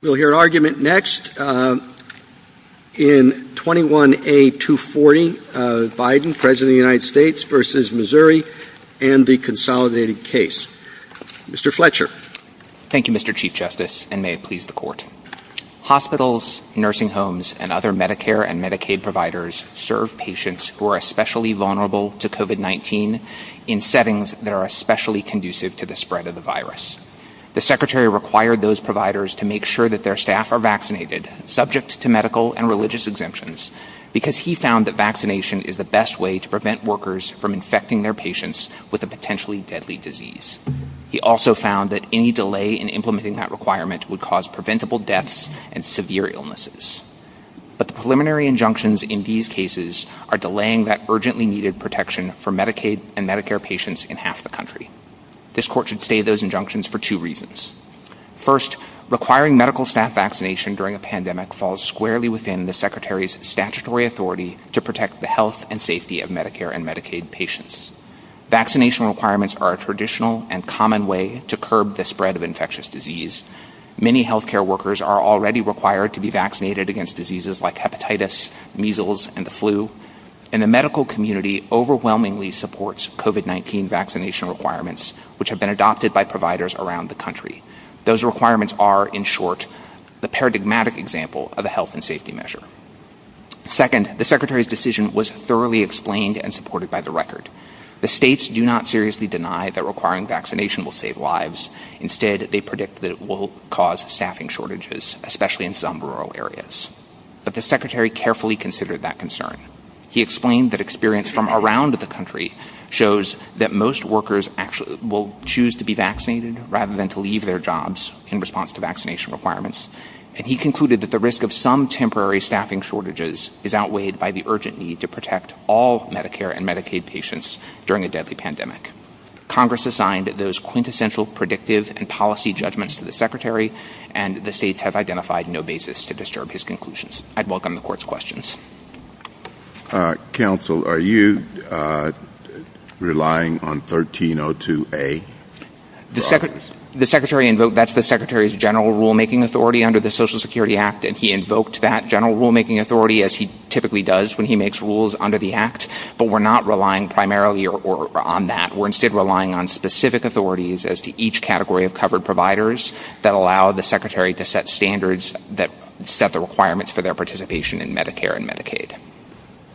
We'll hear an argument next in 21A240, Biden, President of the United States v. Missouri and the consolidated case. Mr. Fletcher. Thank you, Mr. Chief Justice, and may it please the court. Hospitals, nursing homes, and other Medicare and Medicaid providers serve patients who are especially vulnerable to COVID-19 in settings that are especially conducive to the spread of the their staff are vaccinated, subject to medical and religious exemptions, because he found that vaccination is the best way to prevent workers from infecting their patients with a potentially deadly disease. He also found that any delay in implementing that requirement would cause preventable deaths and severe illnesses. But the preliminary injunctions in these cases are delaying that urgently needed protection for Medicaid and Medicare patients in half the country. This court should stay those injunctions for two reasons. First, requiring medical staff vaccination during a pandemic falls squarely within the Secretary's statutory authority to protect the health and safety of Medicare and Medicaid patients. Vaccination requirements are a traditional and common way to curb the spread of infectious disease. Many healthcare workers are already required to be vaccinated against diseases like hepatitis, measles, and the flu, and the medical community overwhelmingly supports COVID-19 vaccination requirements, which have been adopted by providers around the country. Those requirements are, in short, the paradigmatic example of a health and safety measure. Second, the Secretary's decision was thoroughly explained and supported by the record. The states do not seriously deny that requiring vaccination will save lives. Instead, they predict that it will cause staffing shortages, especially in some rural areas. But the Secretary carefully considered that concern. He explained that experience from around the country shows that most workers will choose to be vaccinated rather than to leave their jobs in response to vaccination requirements. And he concluded that the risk of some temporary staffing shortages is outweighed by the urgent need to protect all Medicare and Medicaid patients during a deadly pandemic. Congress assigned those quintessential predictive and policy judgments to the Secretary, and the states have identified no basis to disturb his conclusions. I'd welcome the court's questions. Counsel, are you relying on 1302A? The Secretary invoked that's the Secretary's general rulemaking authority under the Social Security Act, and he invoked that general rulemaking authority as he typically does when he makes rules under the Act. But we're not relying primarily on that. We're instead relying on specific authorities as to each category of covered providers that allow the Secretary to set standards that set the requirements for their participation in Medicare and Medicaid.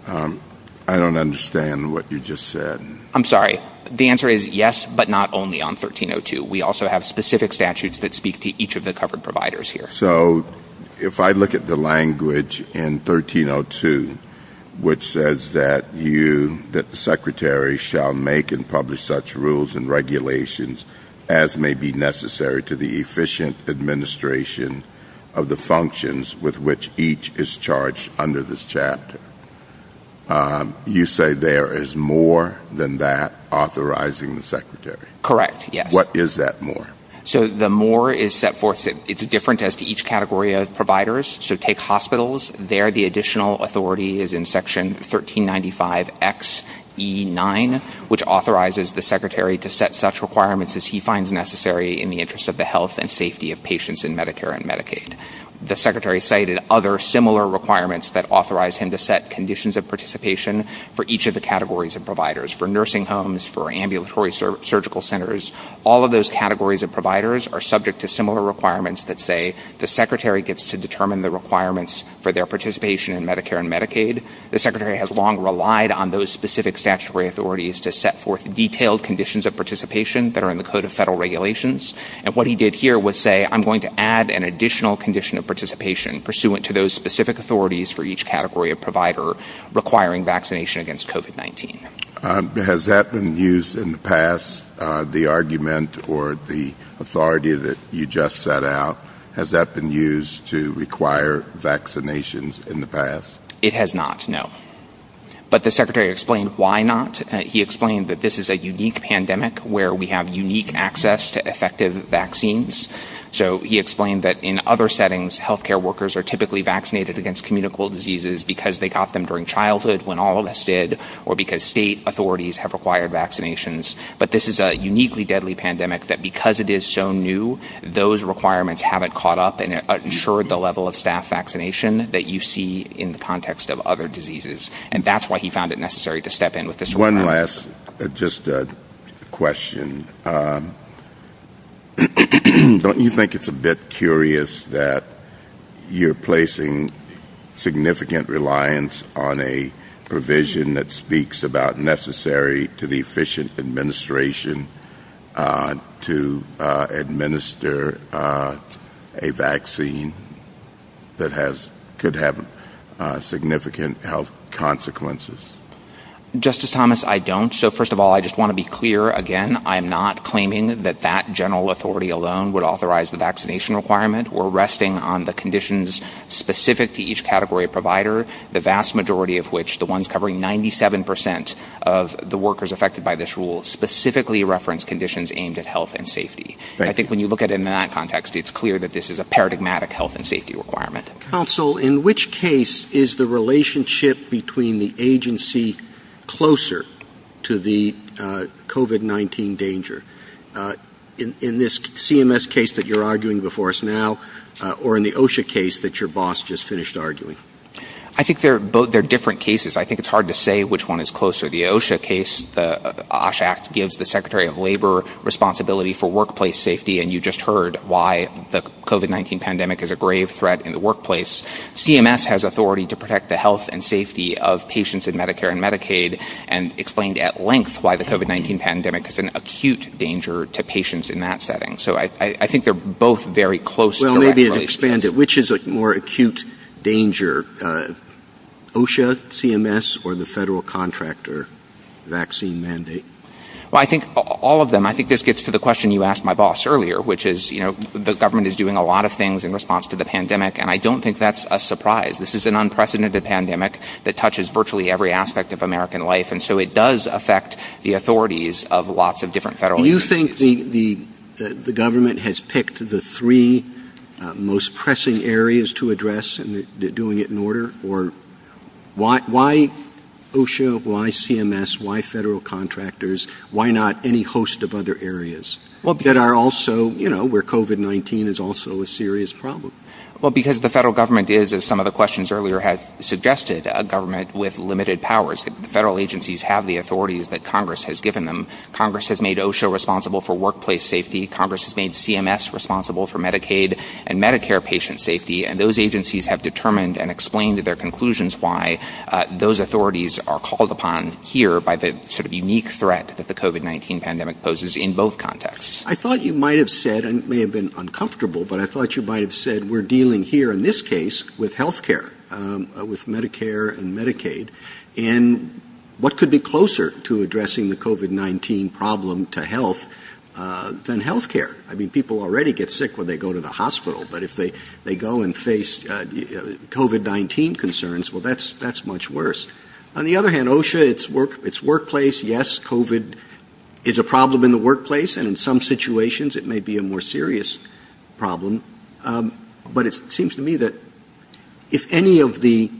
I don't understand what you just said. I'm sorry. The answer is yes, but not only on 1302. We also have specific statutes that speak to each of the covered providers here. So if I look at the language in 1302, which says that you, that the Secretary shall make and publish such rules and regulations as may be necessary to the efficient administration of the functions with which each is charged under this chapter, you say there is more than that authorizing the Secretary? Correct, yes. What is that more? So the more is set forth that it's different as to each category of providers. So take hospitals, there the additional authority is in section 1395XE9, which authorizes the Secretary to set such requirements as he finds necessary in the interest of the health and Medicaid. The Secretary cited other similar requirements that authorize him to set conditions of participation for each of the categories of providers. For nursing homes, for ambulatory surgical centers, all of those categories of providers are subject to similar requirements that say the Secretary gets to determine the requirements for their participation in Medicare and Medicaid. The Secretary has long relied on those specific statutory authorities to set forth detailed conditions of participation that are in the Code of Federal Regulations. And what he did here was say, I'm going to add an additional condition of participation pursuant to those specific authorities for each category of provider requiring vaccination against COVID-19. Has that been used in the past, the argument or the authority that you just set out, has that been used to require vaccinations in the past? It has not, no. But the Secretary explained why not. He explained that this is a unique pandemic where we have unique access to effective vaccines. So he explained that in other settings, health care workers are typically vaccinated against communicable diseases because they got them during childhood when all of us did, or because state authorities have required vaccinations. But this is a uniquely deadly pandemic that because it is so new, those requirements haven't caught up and ensured the level of staff vaccination that you see in the context of other diseases. And that's why he found it necessary to step in with this. One last, just a question. Don't you think it's a bit curious that you're placing significant reliance on a provision that speaks about necessary to the efficient administration to administer a vaccine that could have significant health consequences? Justice Thomas, I don't. So first of all, I just want to be clear again, I'm not claiming that that general authority alone would authorize the vaccination requirement. We're resting on the conditions specific to each category provider, the vast majority of which, the ones covering 97 percent of the workers affected by this rule specifically reference conditions aimed at health and safety. I think when you look at it in that context, it's clear that this is a paradigmatic health and safety requirement. Counsel, in which case is the relationship between the agency closer to the COVID-19 danger in this CMS case that you're arguing before us now or in the OSHA case that your boss just finished arguing? I think they're both they're different cases. I think it's hard to say which one is closer. The OSHA case, the OSHA act gives the secretary of labor responsibility for workplace safety. And you just heard why the COVID-19 pandemic is a grave threat in the workplace. CMS has authority to protect the health and safety of patients in Medicare and Medicaid and explained at length why the COVID-19 pandemic is an acute danger to patients in that setting. So I think they're both very close. Well, maybe expand it, which is a more acute danger OSHA CMS or the federal contractor vaccine mandate? Well, I think all of them. I think this to the question you asked my boss earlier, which is, you know, the government is doing a lot of things in response to the pandemic. And I don't think that's a surprise. This is an unprecedented pandemic that touches virtually every aspect of American life. And so it does affect the authorities of lots of different federal agencies. You think the government has picked the three most pressing areas to address and they're doing it in order or why OSHA, why CMS, why federal contractors, why not any host of other areas that are also, you know, where COVID-19 is also a serious problem? Well, because the federal government is, as some of the questions earlier have suggested, a government with limited powers. Federal agencies have the authorities that Congress has given them. Congress has made OSHA responsible for workplace safety. Congress has made CMS responsible for Medicaid and Medicare patient safety. And those agencies have determined and explained their conclusions why those authorities are by the sort of unique threat that the COVID-19 pandemic poses in both contexts. I thought you might have said, and it may have been uncomfortable, but I thought you might have said we're dealing here in this case with health care, with Medicare and Medicaid. And what could be closer to addressing the COVID-19 problem to health than health care? I mean, people already get sick when they go to the hospital, but if they go and face COVID-19 concerns, well, that's much worse. On the other hand, OSHA, its workplace, yes, COVID is a problem in the workplace and in some situations it may be a more serious problem. But it seems to me that if any of the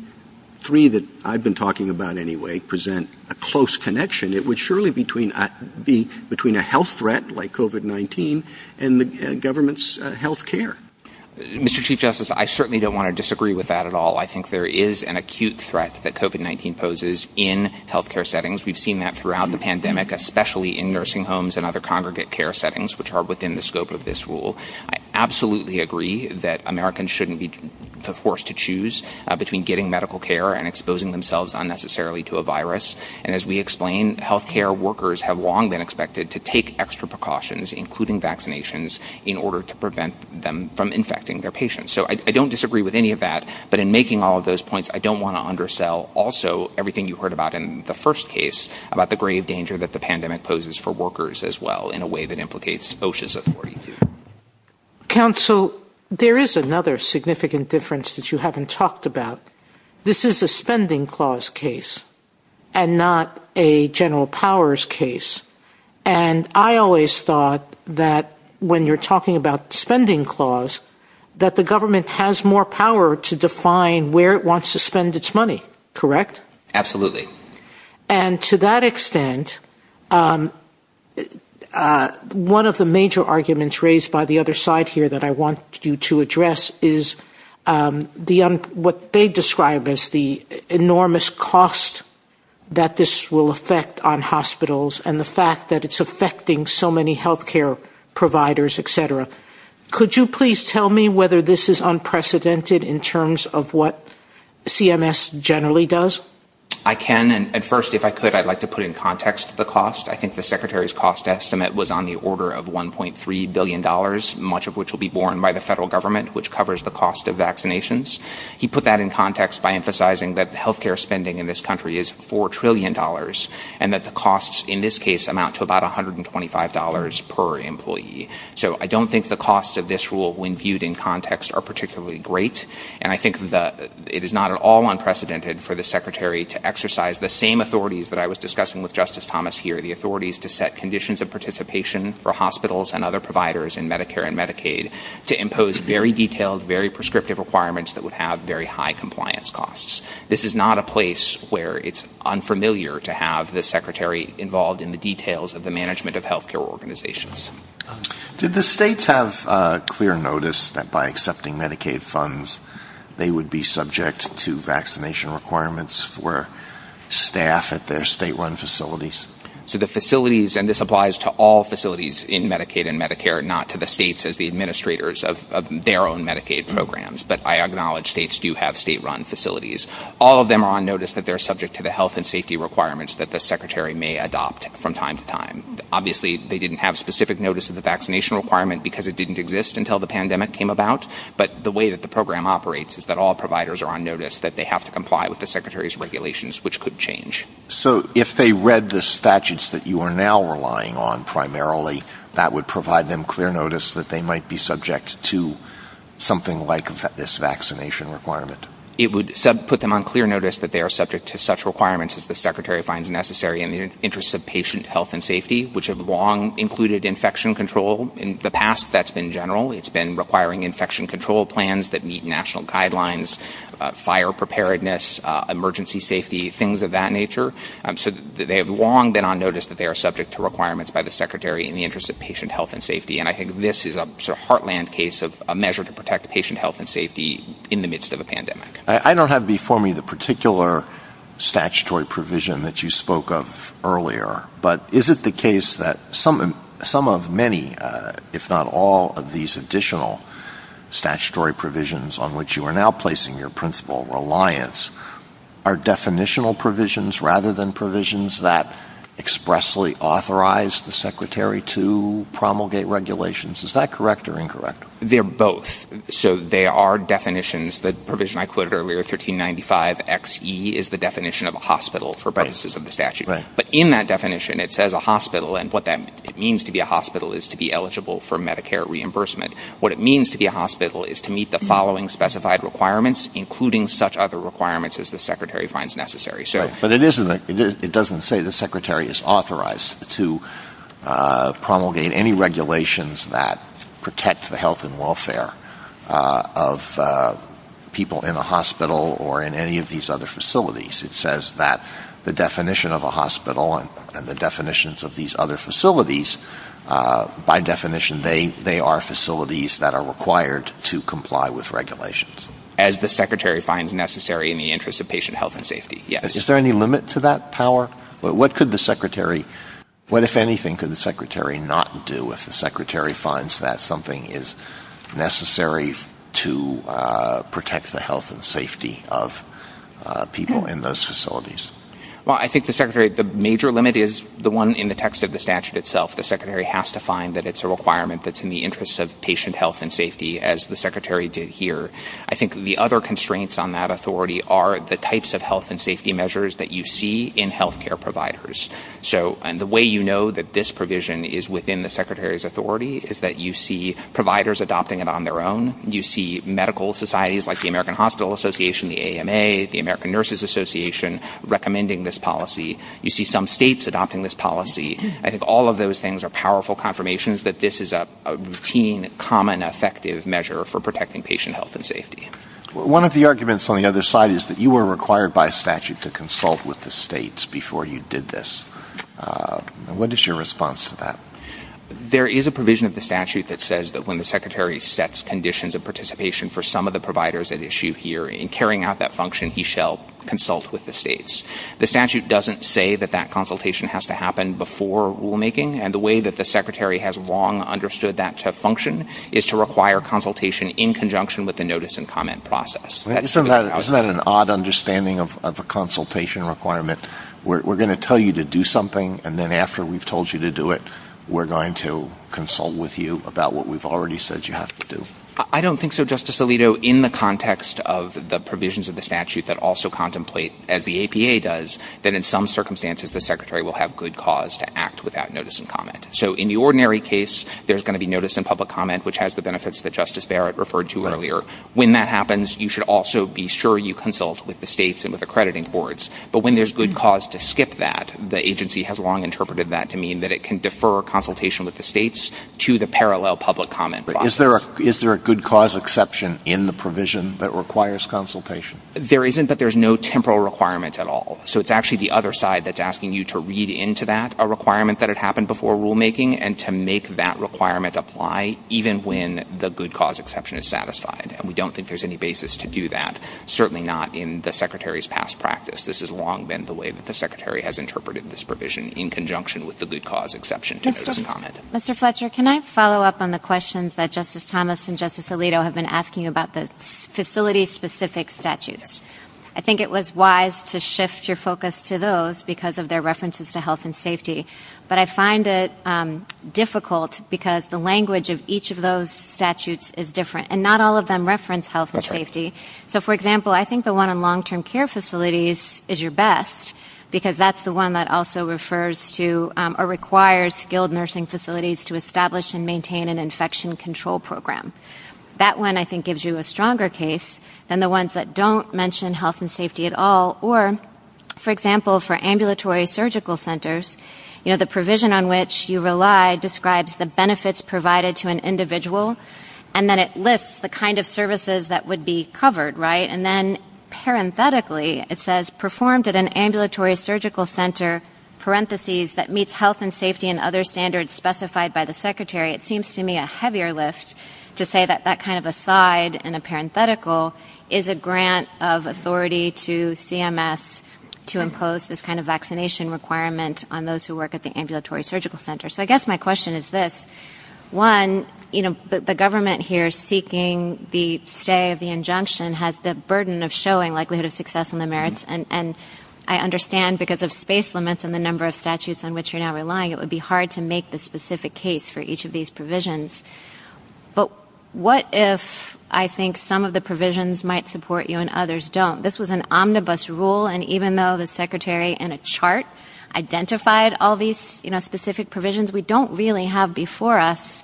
three that I've been talking about anyway present a close connection, it would surely be between a health threat like COVID-19 and the government's health care. Mr. Chief Justice, I certainly don't want to disagree with that at all. I think there is an acute threat that COVID-19 poses in health care settings. We've seen that throughout the pandemic, especially in nursing homes and other congregate care settings, which are within the scope of this rule. I absolutely agree that Americans shouldn't be forced to choose between getting medical care and exposing themselves unnecessarily to a virus. And as we explained, health care workers have long been expected to take extra precautions, including vaccinations, in order to prevent them from infecting their patients. So I don't disagree with any of that. But in making all of those points, I don't want to undersell also everything you heard about in the first case, about the grave danger that the pandemic poses for workers as well in a way that implicates OSHA's authority. Counsel, there is another significant difference that you haven't talked about. This is a spending clause case and not a general powers case. And I always thought that when you're talking about spending clause, that the government has more power to define where it wants to spend its money, correct? Absolutely. And to that extent, one of the major arguments raised by the other side here that I want you to address is what they describe as the enormous cost that this will affect on hospitals and the fact that it's in terms of what CMS generally does. I can. And first, if I could, I'd like to put in context the cost. I think the secretary's cost estimate was on the order of one point three billion dollars, much of which will be borne by the federal government, which covers the cost of vaccinations. He put that in context by emphasizing that health care spending in this country is four trillion dollars and that the costs in this case amount to about one hundred and twenty five dollars per I think it is not at all unprecedented for the secretary to exercise the same authorities that I was discussing with Justice Thomas here, the authorities to set conditions of participation for hospitals and other providers in Medicare and Medicaid to impose very detailed, very prescriptive requirements that would have very high compliance costs. This is not a place where it's unfamiliar to have the secretary involved in the details of the management of they would be subject to vaccination requirements for staff at their state run facilities. So the facilities and this applies to all facilities in Medicaid and Medicare, not to the states as the administrators of their own Medicaid programs. But I acknowledge states do have state run facilities. All of them are on notice that they're subject to the health and safety requirements that the secretary may adopt from time to time. Obviously, they didn't have specific notice of the vaccination requirement because it didn't exist until the pandemic came about. But the way that the program operates is that all providers are on notice that they have to comply with the secretary's regulations, which could change. So if they read the statutes that you are now relying on primarily, that would provide them clear notice that they might be subject to something like this vaccination requirement. It would put them on clear notice that they are subject to such requirements as the secretary finds necessary in the interests of patient health and safety, which have long included infection control. In the past, that's been general. It's been requiring infection control plans that meet national guidelines, fire preparedness, emergency safety, things of that nature. So they have long been on notice that they are subject to requirements by the secretary in the interest of patient health and safety. And I think this is a heartland case of a measure to protect patient health and safety in the midst of a pandemic. I don't have before me the particular statutory provision that you spoke of earlier, but is it the case that some of many, if not all, of these additional statutory provisions on which you are now placing your principal reliance are definitional provisions rather than provisions that expressly authorize the secretary to promulgate regulations? Is that correct or incorrect? They're both. So there are definitions. The provision I quoted earlier, 1395XE, is the definition of a hospital for purposes of the statute. But in that definition, it says a hospital. And what that means to be a hospital is to be eligible for Medicare reimbursement. What it means to be a hospital is to meet the following specified requirements, including such other requirements as the secretary finds necessary. Right. But it doesn't say the secretary is authorized to promulgate any regulations that protect the health and welfare of people in a hospital or in any of these other facilities. It says that the definition of a hospital and the definitions of these other facilities, by definition, they are facilities that are required to comply with regulations. As the secretary finds necessary in the interest of patient health and safety, yes. Is there any limit to that power? What could the secretary, what, if anything, could the secretary not do if the secretary finds that something is necessary to protect the health and safety of people in those facilities? Well, I think the secretary, the major limit is the one in the text of the statute itself. The secretary has to find that it's a requirement that's in the interest of patient health and safety as the secretary did here. I think the other constraints on that authority are the way you know that this provision is within the secretary's authority is that you see providers adopting it on their own. You see medical societies like the American Hospital Association, the AMA, the American Nurses Association recommending this policy. You see some states adopting this policy. I think all of those things are powerful confirmations that this is a routine, common, effective measure for protecting patient health and safety. One of the arguments on the other side is that you were required by statute to consult with the what is your response to that? There is a provision of the statute that says that when the secretary sets conditions of participation for some of the providers at issue here in carrying out that function, he shall consult with the states. The statute doesn't say that that consultation has to happen before rulemaking and the way that the secretary has long understood that to function is to require consultation in conjunction with the notice and comment process. Isn't that an odd understanding of a consultation requirement? We're going to tell you to do something and then after we've told you to do it, we're going to consult with you about what we've already said you have to do. I don't think so, Justice Alito. In the context of the provisions of the statute that also contemplate, as the APA does, that in some circumstances, the secretary will have good cause to act without notice and comment. So in the ordinary case, there's going to be notice and public comment, which has the benefits that Justice Barrett referred to earlier. When that happens, you should also be sure you consult with the states and with accrediting boards. But when there's good cause to skip that, the agency has long interpreted that to mean that it can defer consultation with the states to the parallel public comment process. But is there a good cause exception in the provision that requires consultation? There isn't, but there's no temporal requirement at all. So it's actually the other side that's asking you to read into that, a requirement that had happened before rulemaking, and to make that requirement apply even when the good cause exception is satisfied. And we don't think there's any basis to do that, certainly not in the secretary's past practice. This has long been the way that the secretary has interpreted this provision in conjunction with the good cause exception to notice and comment. Mr. Fletcher, can I follow up on the questions that Justice Thomas and Justice Alito have been asking about the facility-specific statutes? I think it was wise to shift your focus to those because of their references to health and safety. But I find it difficult because the language of each of those statutes is different, and not all of them reference health and safety. So, for example, I think the one on long-term care facilities is your best because that's the one that also refers to or requires skilled nursing facilities to establish and maintain an infection control program. That one, I think, gives you a stronger case than the ones that don't mention health and safety at all. Or, for example, for ambulatory surgical centers, you know, the provision on which you rely describes the benefits provided to an individual, and then it lists the kind of services that would be covered, right? And then, parenthetically, it says, performed at an ambulatory surgical center, parentheses, that meets health and safety and other standards specified by the secretary. It seems to me a heavier list to say that that kind of aside in a parenthetical is a grant of authority to CMS to impose this kind of vaccination requirement on those who work at the ambulatory surgical center. So, I guess my question is this. One, you know, the government here seeking the stay of the injunction has the burden of showing likelihood of success in the merits, and I understand because of space limits and the number of statutes on which you're now relying, it would be hard to make the specific case for each of these provisions. But what if I think some of the provisions might support you and others don't? This was an omnibus rule, and even though the provisions, we don't really have before us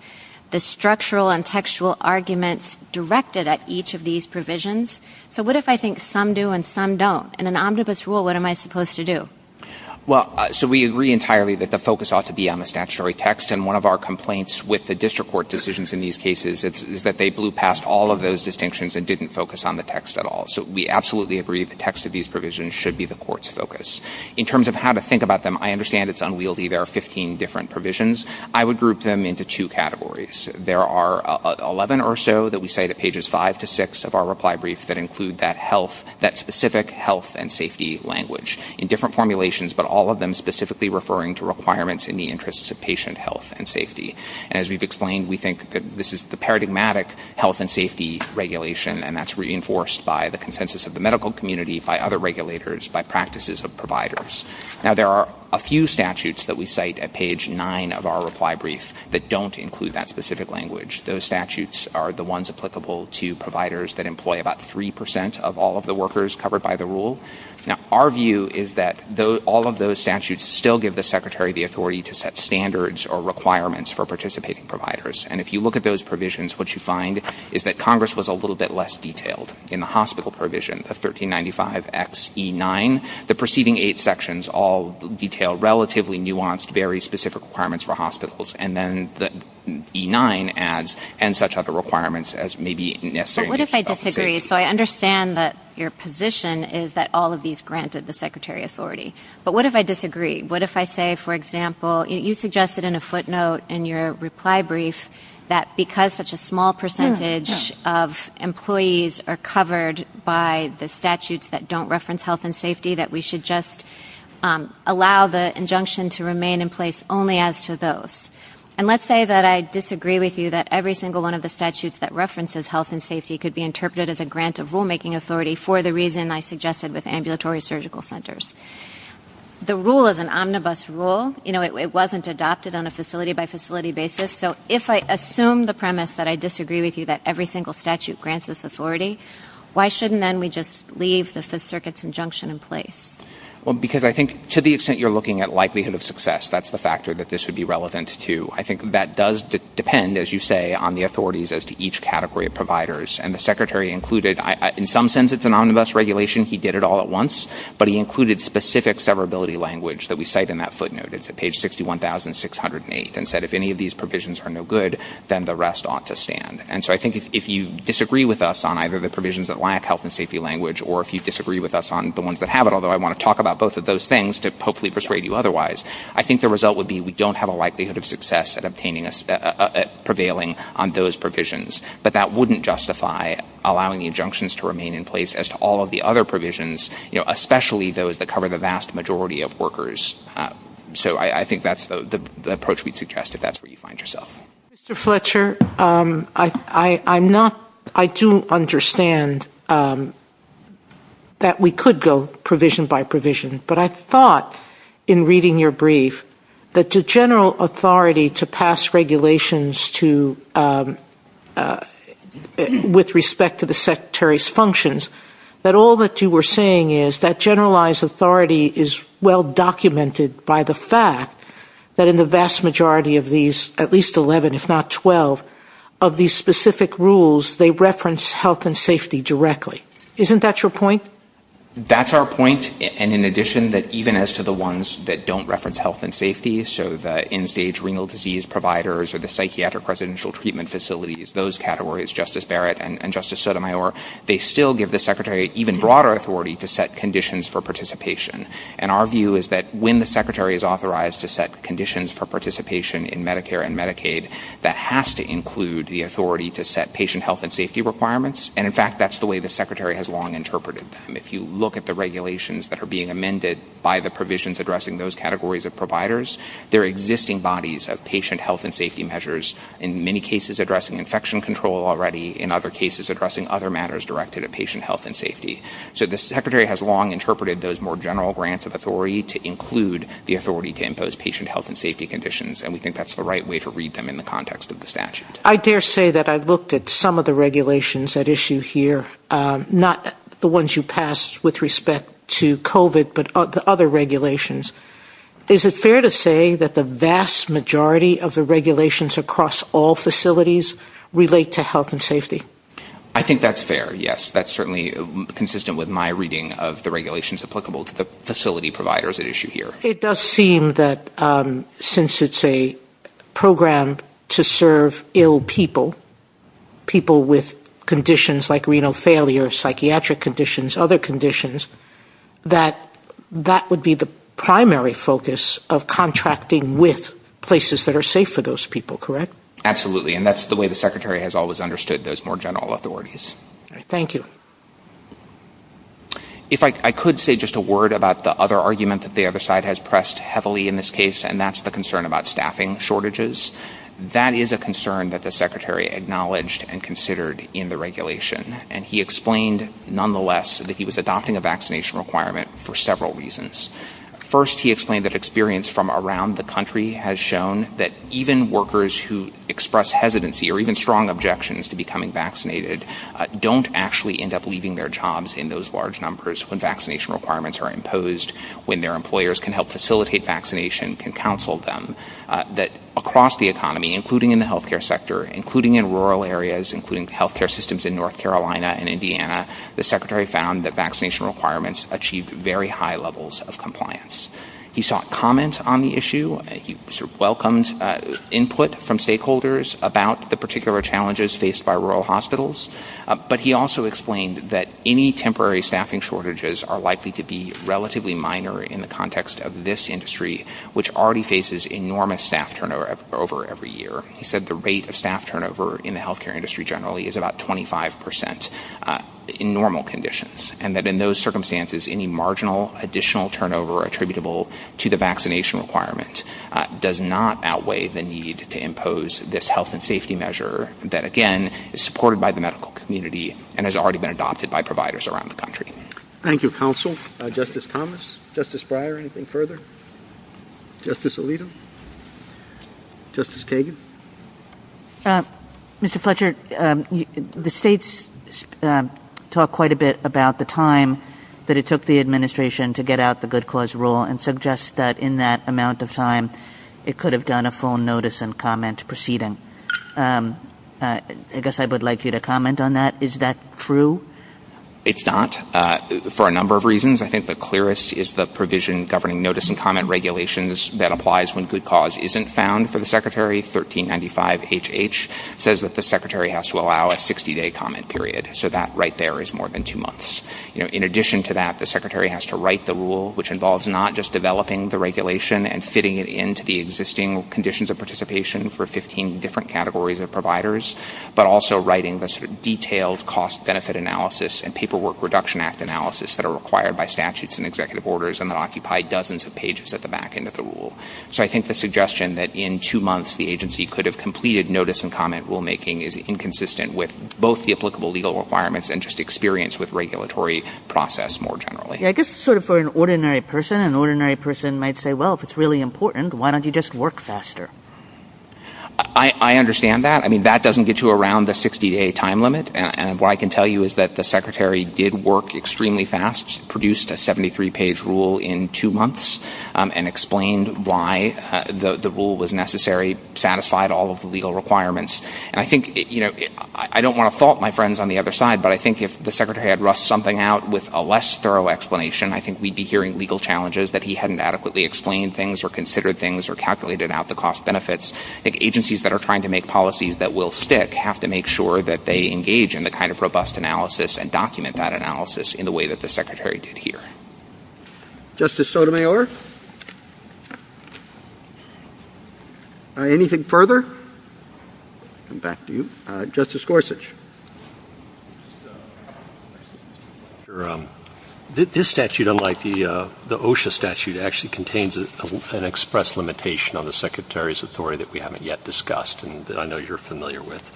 the structural and textual arguments directed at each of these provisions. So, what if I think some do and some don't? In an omnibus rule, what am I supposed to do? Well, so we agree entirely that the focus ought to be on the statutory text, and one of our complaints with the district court decisions in these cases is that they blew past all of those distinctions and didn't focus on the text at all. So, we absolutely agree the text of these provisions should be the court's focus. In terms of how to think about them, I understand it's 15 different provisions. I would group them into two categories. There are 11 or so that we say that pages 5 to 6 of our reply brief that include that specific health and safety language in different formulations, but all of them specifically referring to requirements in the interests of patient health and safety. As we've explained, we think that this is the paradigmatic health and safety regulation, and that's reinforced by the consensus of the medical community, by other regulators, by practices of providers. Now, there are a few statutes that we cite at page 9 of our reply brief that don't include that specific language. Those statutes are the ones applicable to providers that employ about 3% of all of the workers covered by the rule. Now, our view is that all of those statutes still give the secretary the authority to set standards or requirements for participating providers, and if you look at those provisions, what you find is that Congress was a little bit less detailed in the hospital provision of 1395XE9. The preceding eight sections all detail relatively nuanced, very specific requirements for hospitals, and then the E9 adds and such other requirements as may be necessary. What if I disagree? So, I understand that your position is that all of these granted the secretary authority, but what if I disagree? What if I say, for example, you suggested in a footnote in your reply brief that because such a small percentage of employees are covered by the statutes that don't reference health and safety, that we should just allow the injunction to remain in place only as to those? And let's say that I disagree with you that every single one of the statutes that references health and safety could be interpreted as a grant of rulemaking authority for the reason I suggested with ambulatory surgical centers. The rule is an omnibus rule. It wasn't adopted on a facility-by-facility basis, so if I assume the premise that I disagree with you that every single statute grants this authority, why shouldn't then we just leave the Fifth Circuit's injunction in place? Well, because I think to the extent you're looking at likelihood of success, that's the factor that this would be relevant to. I think that does depend, as you say, on the authorities as to each category of providers, and the secretary included, in some sense, it's an omnibus regulation. He did it all at once, but he included specific severability language that we cite in that footnote. It's at page 61,608 and said, if any of these provisions are no good, then the rest ought to stand. And so I think if you disagree with us on either the provisions that lack health and safety language or if you disagree with us on the ones that have it, although I want to talk about both of those things to hopefully persuade you otherwise, I think the result would be we don't have a likelihood of success at prevailing on those provisions. But that wouldn't justify allowing the injunctions to remain in place as to all of the other provisions, especially those that cover the vast majority of workers. So I think that's the approach we'd suggest if that's where you find yourself. Mr. Fletcher, I do understand that we could go provision by provision, but I thought in reading your brief that the general authority to pass regulations with respect to the secretary's functions, that all that you were saying is that generalized authority is well documented by the fact that in the vast majority of these, at least 11, if not 12, of these specific rules, they reference health and safety directly. Isn't that your point? That's our point. And in addition, that even as to the ones that don't reference health and safety, so the end-stage renal disease providers or the psychiatric residential treatment facilities, those categories, Justice Barrett and Justice Sotomayor, they still give the secretary even broader authority to set conditions for participation. And our view is that when the secretary is authorized to set conditions for participation in Medicare and Medicaid, that has to include the authority to set patient health and safety requirements. And in fact, that's the way the secretary has long interpreted them. If you look at the regulations that are amended by the provisions addressing those categories of providers, there are existing bodies of patient health and safety measures, in many cases addressing infection control already, in other cases addressing other matters directed at patient health and safety. So the secretary has long interpreted those more general grants of authority to include the authority to impose patient health and safety conditions. And we think that's the right way to read them in the context of the statute. I dare say that I looked at some of the regulations that issue here, not the ones you passed with respect to COVID, but other regulations. Is it fair to say that the vast majority of the regulations across all facilities relate to health and safety? I think that's fair. Yes, that's certainly consistent with my reading of the regulations applicable to the facility providers at issue here. It does seem that since it's a program to serve ill people, people with conditions like renal failure, psychiatric conditions, other conditions, that that would be the primary focus of contracting with places that are safe for those people, correct? Absolutely. And that's the way the secretary has always understood those more general authorities. Thank you. If I could say just a word about the other argument that the other side has pressed heavily in this case, and that's the concern about staffing shortages. That is a concern that secretary acknowledged and considered in the regulation. And he explained nonetheless that he was adopting a vaccination requirement for several reasons. First, he explained that experience from around the country has shown that even workers who express hesitancy or even strong objections to becoming vaccinated don't actually end up leaving their jobs in those large numbers when vaccination requirements are imposed, when their employers can help facilitate vaccination, can counsel them, that across the economy, including in the health care sector, including in rural areas, including health care systems in North Carolina and Indiana, the secretary found that vaccination requirements achieve very high levels of compliance. He sought comments on the issue. He welcomed input from stakeholders about the particular challenges faced by rural hospitals. But he also explained that any temporary staffing shortages are likely to be relatively minor in the context of this industry, which already faces enormous staff turnover over every year. He said the rate of staff turnover in the health care industry generally is about 25 percent in normal conditions, and that in those circumstances, any marginal additional turnover attributable to the vaccination requirement does not outweigh the need to impose this health and safety measure that, again, is supported by the medical community and has already been adopted by providers around the country. Thank you, counsel. Justice Thomas, Justice Breyer, anything further? Justice Alito? Justice Kagan? Mr. Fletcher, the states talk quite a bit about the time that it took the administration to get out the good cause rule and suggest that in that amount of time, it could have done a full notice and comment proceeding. I guess I would like you to comment on that. Is that true? It's not. For a number of reasons, I think the clearest is the provision governing notice and comment regulations that applies when good cause isn't found for the secretary. 1395HH says that the secretary has to allow a 60-day comment period, so that right there is more than two months. In addition to that, the secretary has to write the rule, which involves not just developing the regulation and fitting it into the existing conditions of participation for 15 different categories of providers, but also writing the detailed cost-benefit analysis and paperwork reduction act analysis that are required by statutes and executive orders and that occupy dozens of pages at the back end of the rule. So I think the suggestion that in two months, the agency could have completed notice and comment rulemaking is inconsistent with both the applicable legal requirements and just experience with regulatory process more generally. Yeah, I guess sort of for an ordinary person, an ordinary person might say, well, if it's really important, why don't you just work faster? I understand that. I mean, that doesn't get you around the 60-day time limit. And what I can tell you is that the secretary did work extremely fast, produced a 73-page rule in two months and explained why the rule was necessary, satisfied all of the legal requirements. And I think, you know, I don't want to fault my friends on the other side, but I think if the secretary had roughed something out with a less thorough explanation, I think we'd be hearing legal challenges that he hadn't adequately explained things or considered things or calculated out the cost benefits. I think agencies that are trying to make policies that will stick have to make sure that they engage in the kind of robust analysis and document that analysis in the way that the secretary did here. Justice Sotomayor? Anything further? Back to you. Justice Gorsuch. This statute, unlike the OSHA statute, actually contains an express limitation on the secretary's authority that we haven't yet discussed and that I know you're familiar with.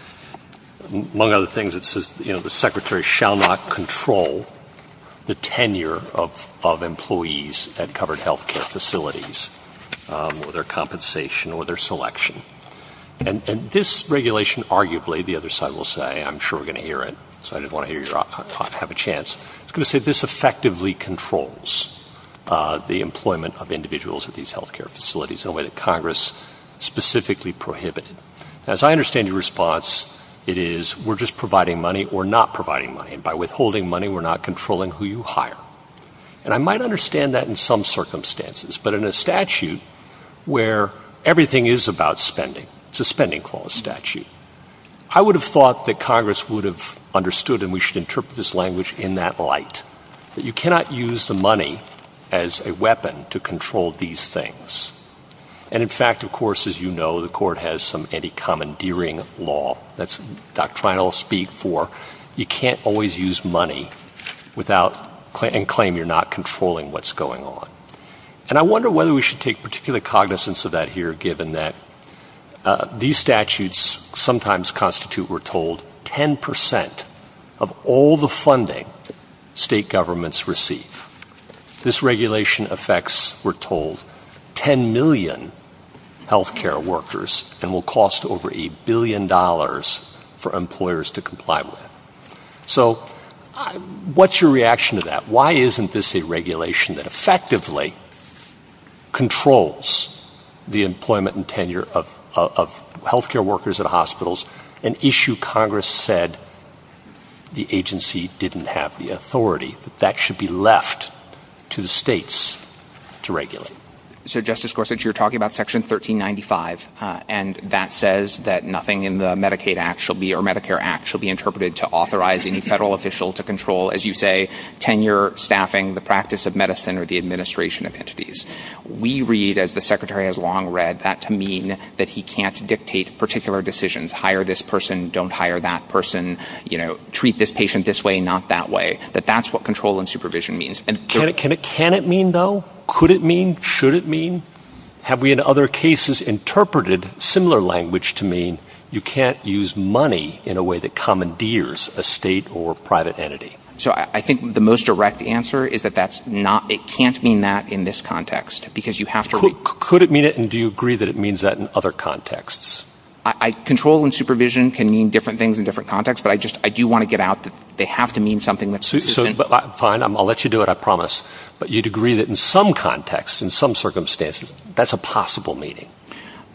Among other things, it says, you know, the secretary shall not control the tenure of employees at covered health care facilities or their compensation or their selection. And this regulation, arguably, the other side will say, I'm sure we're going to hear it, so I didn't want to have a chance. It's going to say this effectively controls the employment of individuals at these health care facilities in a way that Congress specifically prohibited. As I understand your response, it is we're just providing money, we're not providing money. And by withholding money, we're not controlling who you hire. And I might understand that in some circumstances, but in a statute where everything is about spending, it's a spending clause statute, I would have thought that Congress would have understood and we should interpret this language in that light, that you cannot use the money as a weapon to control these things. And in fact, of course, as you know, the court has some anti-commandeering law that's doctrinal speak for you can't always use money without and claim you're not controlling what's going on. And I wonder whether we should take particular cognizance of that here, given that these statutes sometimes constitute, we're governments receive. This regulation affects, we're told, 10 million health care workers and will cost over a billion dollars for employers to comply with. So what's your reaction to that? Why isn't this a regulation that effectively controls the employment and tenure of health care workers at hospitals, an issue Congress said the agency didn't have the authority that should be left to the states to regulate? So Justice Gorsuch, you're talking about Section 1395. And that says that nothing in the Medicaid Act shall be or Medicare Act shall be interpreted to authorize any federal official to control, as you say, tenure, staffing, the practice of medicine or the administration of entities. We read as the Secretary has long read that to mean that he can't dictate particular decisions, hire this person, don't hire that person, you know, treat this patient this way, not that way, that that's what control and supervision means. And can it mean though? Could it mean? Should it mean? Have we in other cases interpreted similar language to mean you can't use money in a way that commandeers a state or private entity? So I think the most direct answer is that that's not it can't mean that in this context, because you have to could it mean it? And do you agree that it means that in other contexts? I control and supervision can mean different things in different contexts. But I just I do want to get out that they have to mean something that's fine. I'll let you do it. I promise. But you'd agree that in some contexts, in some circumstances, that's a possible meeting.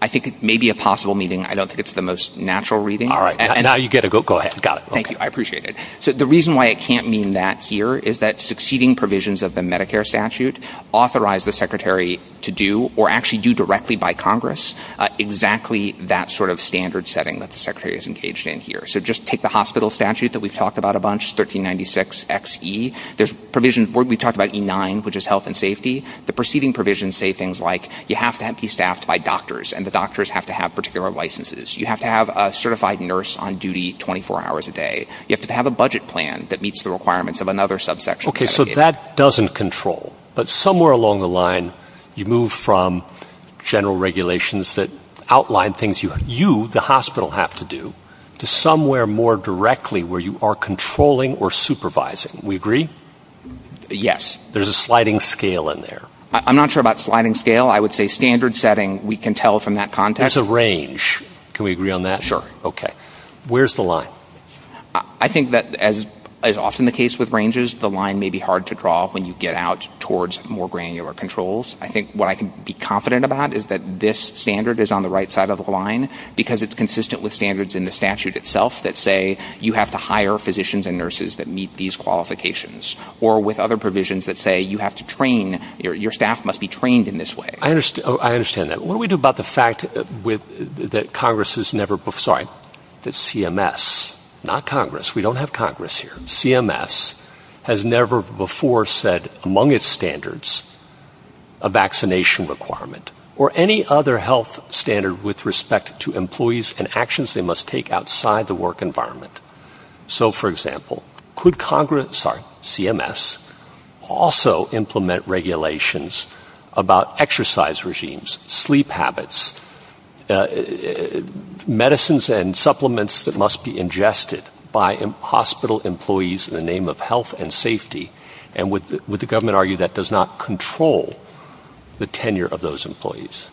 I think it may be a possible meeting. I don't think it's the most natural reading. All right. Now you get a go. Go ahead. Got it. Thank you. I appreciate it. So the reason why it can't mean that here is that succeeding provisions of the Medicare statute authorize the secretary to do or actually do directly by Congress. Exactly that sort of standard setting that the secretary is engaged in here. So just take the hospital statute that we've talked about a bunch. 1396 XE. There's provisions where we talk about E9, which is health and safety. The preceding provisions say things like you have to be staffed by doctors and the doctors have to have particular licenses. You have to have a certified nurse on duty 24 hours a day. You have to have a budget plan that meets the requirements of another subsection. Okay. So that doesn't control. But somewhere along the line, you move from general regulations that outline things you, the hospital, have to do to somewhere more directly where you are controlling or supervising. We agree? Yes. There's a sliding scale in there. I'm not sure about sliding scale. I would say standard setting. We can tell from that context. It's a range. Can we agree on that? Sure. Okay. Where's the line? I think that as is often the case with ranges, the line may be hard to draw when you get out towards more granular controls. I think what I can be confident about is that this standard is on the right side of the line because it's consistent with standards in the statute itself that say you have to hire physicians and nurses that meet these qualifications or with other provisions that say you have to train your staff must be trained in this way. I understand that. What that Congress has never, sorry, the CMS, not Congress. We don't have Congress here. CMS has never before said among its standards a vaccination requirement or any other health standard with respect to employees and actions they must take outside the work environment. So for example, could Congress, sorry, CMS also implement regulations about exercise regimes, sleep habits, medicines and supplements that must be ingested by hospital employees in the name of health and safety? And would the government argue that does not control the tenure of those employees?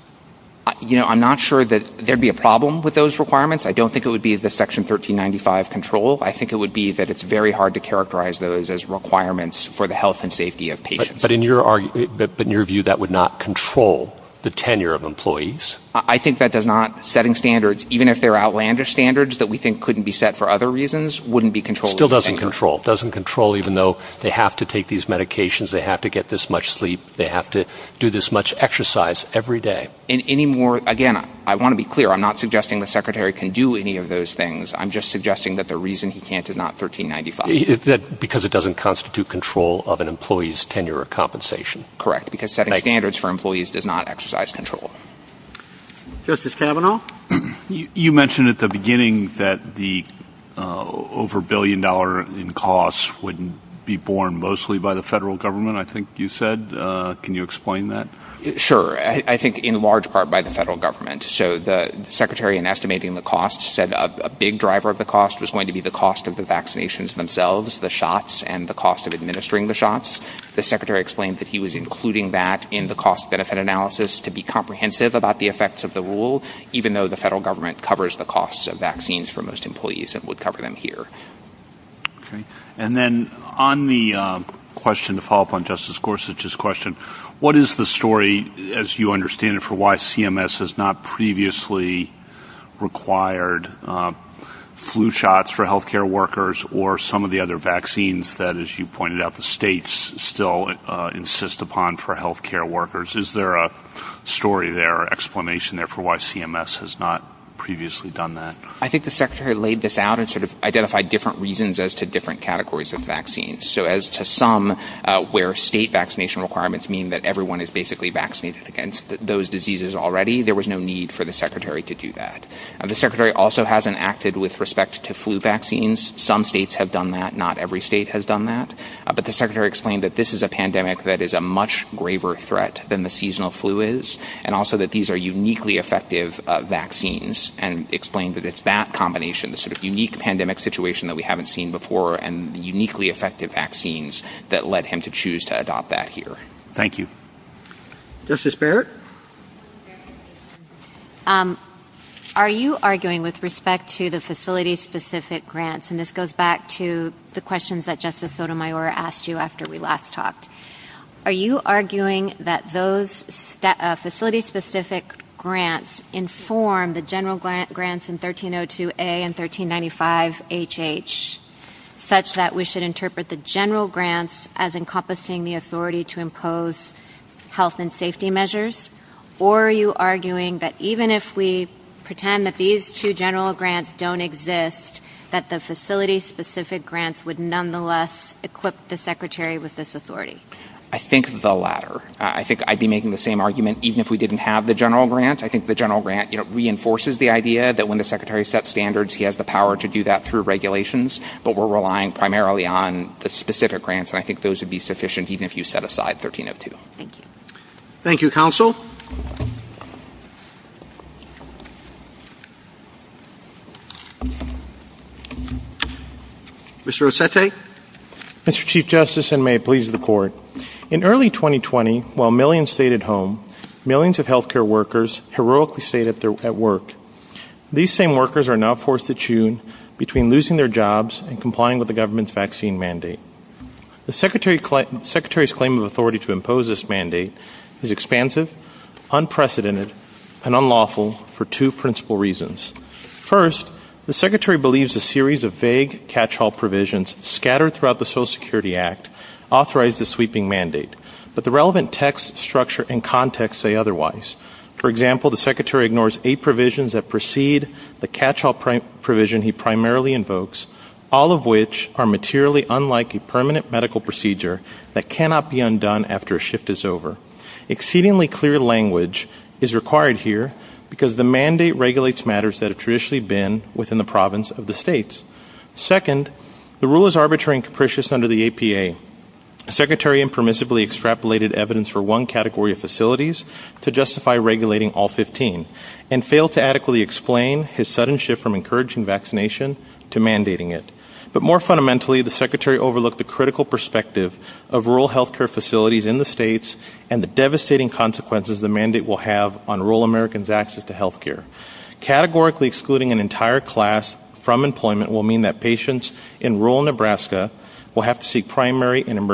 I'm not sure that there'd be a problem with those requirements. I don't think it would be the section 1395 control. I think it would be that it's very hard to characterize those as requirements for the health and safety of patients. But in your view, that would not control the tenure of employees. I think that does not setting standards, even if they're outlandish standards that we think couldn't be set for other reasons, wouldn't be controlled. Still doesn't control, doesn't control, even though they have to take these medications, they have to get this much sleep, they have to do this much exercise every day. And any more, again, I want to be clear, I'm not suggesting the secretary can do any of those things. I'm just suggesting that the reason he can't is not 1395. Because it doesn't constitute control of an employee's tenure or compensation. Correct, because setting standards for employees does not exercise control. Justice Kavanaugh, you mentioned at the beginning that the over billion dollar in costs wouldn't be borne mostly by the federal government. I think you said, can you explain that? Sure, I think in large part by the federal government. So the secretary in estimating the costs said a big driver of the cost was going to be the cost of vaccinations themselves, the shots and the cost of administering the shots. The secretary explained that he was including that in the cost benefit analysis to be comprehensive about the effects of the rule, even though the federal government covers the costs of vaccines for most employees and would cover them here. And then on the question to follow up on Justice Gorsuch's question, what is the story, as you understand it, for why CMS has not previously required flu shots for health care workers or some of the other vaccines that, as you pointed out, the states still insist upon for health care workers? Is there a story there or explanation there for why CMS has not previously done that? I think the secretary laid this out and sort of identified different reasons as to different categories of vaccines. So as to some where state vaccination requirements mean that everyone is basically vaccinated against those diseases already, there was no need for the secretary to do that. The secretary also hasn't acted with respect to flu vaccines. Some states have done that. Not every state has done that. But the secretary explained that this is a pandemic that is a much graver threat than the seasonal flu is and also that these are uniquely effective vaccines and explained that it's that combination, the sort of unique pandemic situation that we haven't seen before and uniquely effective vaccines that led him to choose to adopt that here. Thank you. Justice Barrett? Are you arguing with respect to the facility-specific grants, and this goes back to the questions that Justice Sotomayor asked you after we last talked, are you arguing that those facility-specific grants inform the general grants in 1302A and 1395HH such that we should interpret the general grants as encompassing the authority to impose health and safety measures? Or are you arguing that even if we pretend that these two general grants don't exist, that the facility-specific grants would nonetheless equip the secretary with this authority? I think the latter. I think I'd be making the same argument even if we didn't have the general grants. I think the general grant reinforces the idea that when the secretary sets standards, he has the power to do that through regulations, but we're relying primarily on the specific grants, and I think those would be sufficient even if you set aside 1302. Thank you, counsel. Mr. Rossetti? Mr. Chief Justice, and may it please the court. In early 2020, while millions stayed at home, millions of healthcare workers heroically stayed at work. These same workers are now forced to tune between losing their jobs and complying with the government's vaccine mandate. The secretary's claim of authority to impose this mandate is expansive, unprecedented, and unlawful for two principal reasons. First, the secretary believes a series of vague catch-all provisions scattered throughout the Social Security Act authorize the sweeping mandate, but the relevant text, structure, and context say otherwise. For example, the secretary ignores eight provisions that precede the catch-all provision he primarily invokes, all of which are materially unlike a permanent medical procedure that cannot be undone after a shift is over. Exceedingly clear language is required here because the mandate regulates matters that have traditionally been within the province of the states. Second, the rule is arbitrary and capricious under the APA. The secretary impermissibly extrapolated evidence for one category of facilities to justify regulating all 15 and failed to adequately explain his sudden shift from encouraging vaccination to mandating it. But more fundamentally, the secretary overlooked the critical perspective of rural healthcare facilities in the states and the devastating consequences the mandate will have on rural Americans' access to healthcare. Categorically excluding an entire class from employment will mean that patients in rural Nebraska will have to seek primary and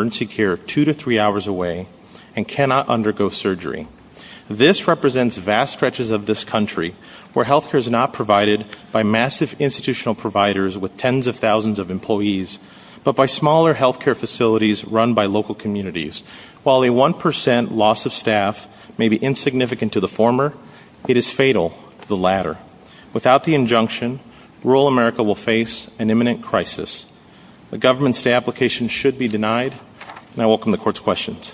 This represents vast stretches of this country where healthcare is not provided by massive institutional providers with tens of thousands of employees, but by smaller healthcare facilities run by local communities. While a 1% loss of staff may be insignificant to the former, it is fatal to the latter. Without the injunction, rural America will face an imminent crisis. The government's day application should be denied, and I welcome the court's questions.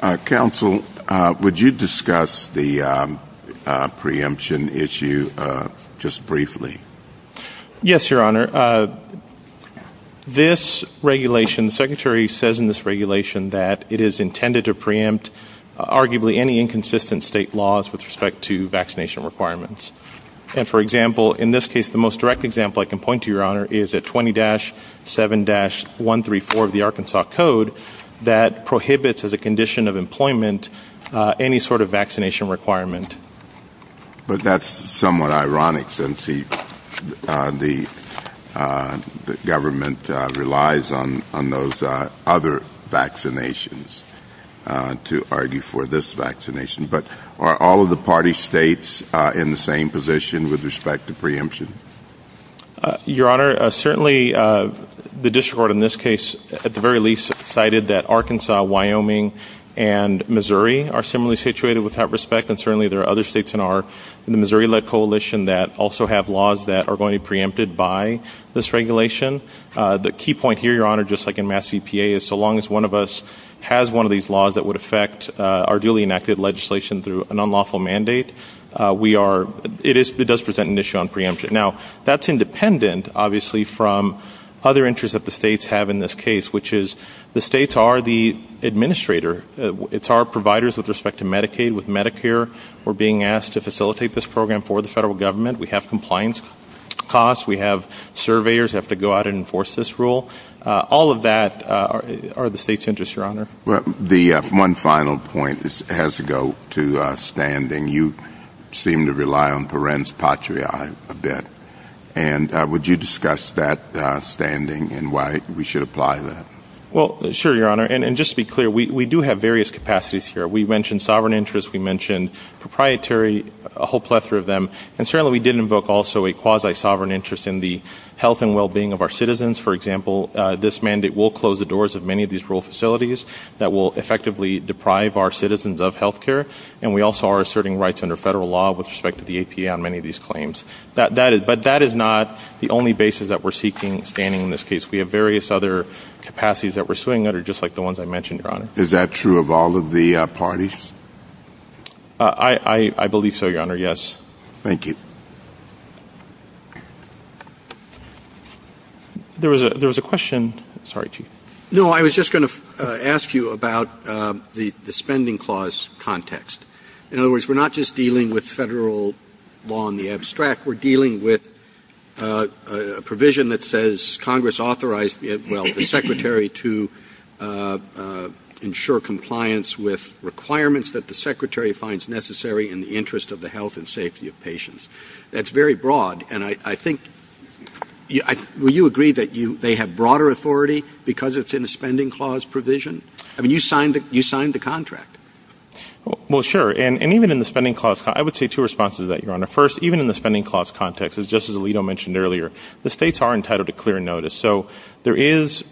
Uh, counsel, uh, would you discuss the, um, uh, preemption issue, uh, just briefly? Yes, your honor. Uh, this regulation, the secretary says in this regulation that it is intended to preempt arguably any inconsistent state laws with respect to vaccination requirements. And for example, in this case, the most direct example I can point to your honor is at 20 dash seven dash one, three, four of the Arkansas code that prohibits as a condition of employment, uh, any sort of vaccination requirement. But that's somewhat ironic since he, uh, the, uh, government, uh, relies on, on those, uh, other vaccinations, uh, to argue for this vaccination, but are all of the party states, uh, in the same position with respect to preemption? Your honor, uh, certainly, uh, the district court in this case at the very least cited that Arkansas, Wyoming, and Missouri are similarly situated without respect. And certainly there are other states in our, in the Missouri led coalition that also have laws that are going to be preempted by this regulation. Uh, the key point here, your honor, just like in mass CPA is so long as one of us has one of these laws that would affect, uh, our duly enacted legislation through an unlawful mandate. Uh, we are, it is, it does present an issue on preemption. Now that's independent obviously from other interests that the states have in this case, which is the states are the administrator. It's our providers with respect to Medicaid, with Medicare, we're being asked to facilitate this program for the federal government. We have compliance costs. We have surveyors have to go out and enforce this rule. Uh, all of that, uh, are the state's interest, your honor. Well, the, uh, one final point is, has to go to a standing. You seem to rely on parens patriae a bit. And, uh, would you discuss that, uh, standing and why we should apply that? Well, sure, your honor. And just to be clear, we, we do have various capacities here. We mentioned sovereign interests. We mentioned proprietary, a whole plethora of them. And certainly we did invoke also a quasi sovereign interest in the health and wellbeing of our citizens. For example, this mandate will close the doors of many of these rural facilities that will effectively deprive our citizens of healthcare. And we also are asserting rights under federal law with respect to the APA on many of these claims that that is, but that is not the only basis that we're seeking standing in this case. We have various other capacities that we're suing that are just like the ones I mentioned, your honor. Is that true of all of the parties? Uh, I, I believe so, your honor. Yes. Thank you. There was a, there was a question. Sorry. No, I was just going to ask you about, um, the, the spending clause context. In other words, we're not just dealing with federal law on the abstract. We're dealing with, uh, uh, a provision that says Congress authorized it. Well, the secretary to, uh, uh, ensure compliance with requirements that the secretary finds necessary in the interest of the health and safety of patients. That's very broad. And I, I think you, I, will you agree that you, they have broader authority because it's in a spending clause provision? I mean, you signed it, you signed the contract. Well, sure. And even in the spending clause, I would say two responses to that, your honor. First, even in the spending clause context is just as Alito mentioned earlier, the States are entitled to clear notice. So there is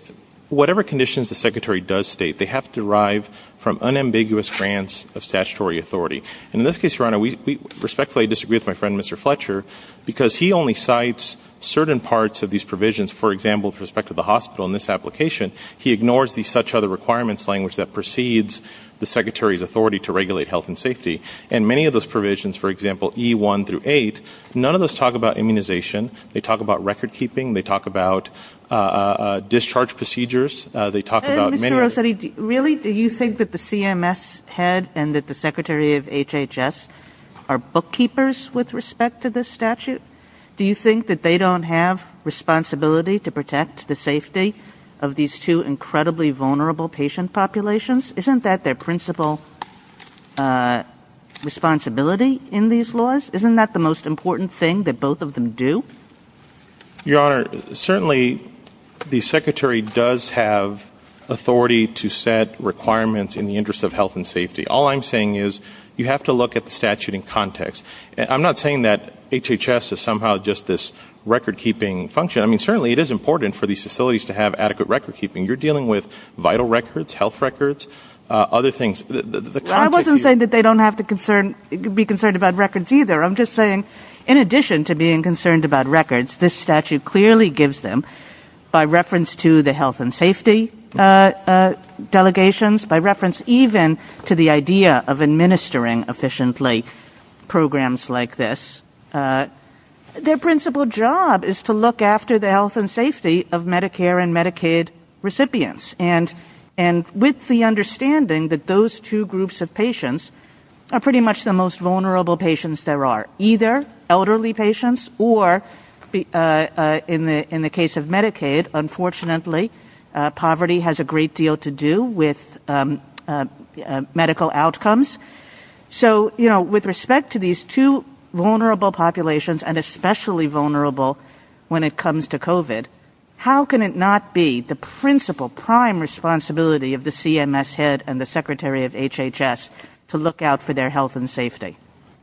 whatever conditions the secretary does state, they have to derive from unambiguous grants of statutory authority. And in this case, your honor, we respectfully disagree with my friend, Mr. Fletcher, because he only cites certain parts of these provisions. For example, with respect to the hospital in this application, he ignores these such other requirements language that precedes the secretary's authority to regulate health and safety. And many of those provisions, for example, E one through eight, none of those talk about immunization. They talk about record keeping. They talk about, uh, uh, discharge procedures. Uh, they talk about really, do you think that the CMS head and that the secretary of HHS are bookkeepers with respect to this statute? Do you think that they don't have responsibility to protect the safety of these two incredibly vulnerable patient populations? Isn't that their principal, uh, responsibility in these laws? Isn't that the most important thing that both of them do? You are certainly the secretary does have authority to set requirements in the interest of health and safety. All I'm saying is you have to look at the statute in context. I'm not saying that HHS is somehow just this record keeping function. I mean, certainly it is important for these facilities to have adequate record keeping. You're dealing with vital records, health records, uh, other things. I wasn't saying that they don't have to concern, be concerned about reference either. I'm just saying, in addition to being concerned about records, this statute clearly gives them by reference to the health and safety, uh, uh, delegations by reference, even to the idea of administering efficiently programs like this. Their principal job is to look after the health and safety of Medicare and Medicaid recipients. And, and with the understanding that those two groups of patients are pretty much the most vulnerable patients there are, either elderly patients or, uh, uh, in the, in the case of Medicaid, unfortunately, uh, poverty has a great deal to do with, um, uh, uh, medical outcomes. So, you know, with respect to these two vulnerable populations and especially vulnerable when it comes to COVID, how can it not be the principal prime responsibility of the CMS head and the secretary of HHS to look out for their health and safety?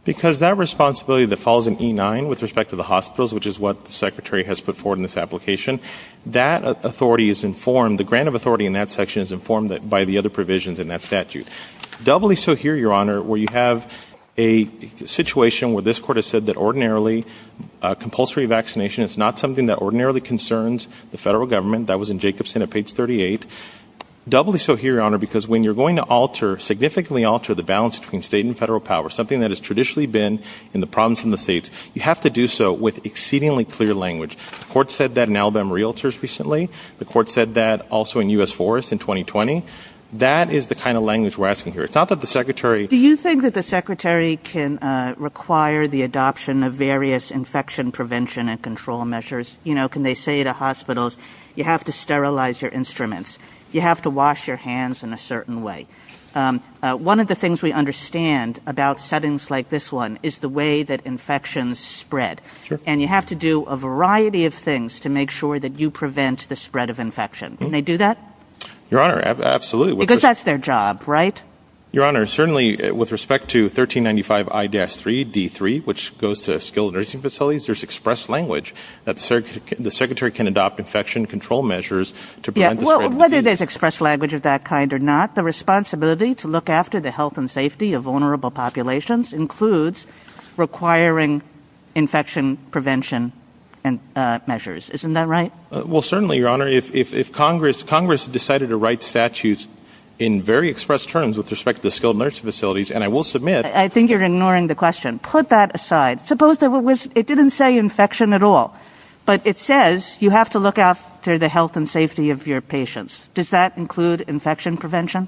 Because that responsibility that falls in E9 with respect to the hospitals, which is what the secretary has put forward in this application, that authority is informed. The grant of authority in that section is informed by the other provisions in that statute. Doubly so here, your honor, where you have a situation where this court has said that ordinarily, uh, compulsory vaccination, it's not something that ordinarily concerns the federal government that was in Jacobson at page 38. Doubly so here, your honor, because when you're going to alter significantly, alter the balance between state and federal power, something that has traditionally been in the problems in the states, you have to do so with exceedingly clear language. The court said that in Alabama realtors recently, the court said that also in us forest in 2020, that is the kind of language we're asking here. It's not that the the adoption of various infection prevention and control measures, you know, can they say to hospitals, you have to sterilize your instruments. You have to wash your hands in a certain way. Um, uh, one of the things we understand about settings like this one is the way that infections spread and you have to do a variety of things to make sure that you prevent the spread of infection. Can they do that? Your honor? Absolutely. Because that's their job, your honor. Certainly with respect to 13 95, I guess three d three, which goes to skilled nursing facilities, there's expressed language that the secretary can adopt infection control measures to whether there's expressed language of that kind or not. The responsibility to look after the health and safety of vulnerable populations includes requiring infection prevention and measures. Isn't that right? Well, certainly, your honor, if Congress Congress decided to write statutes in very expressed terms with respect to the skilled nursing facilities, and I will submit, I think you're ignoring the question. Put that aside. Suppose that it didn't say infection at all, but it says you have to look after the health and safety of your patients. Does that include infection prevention?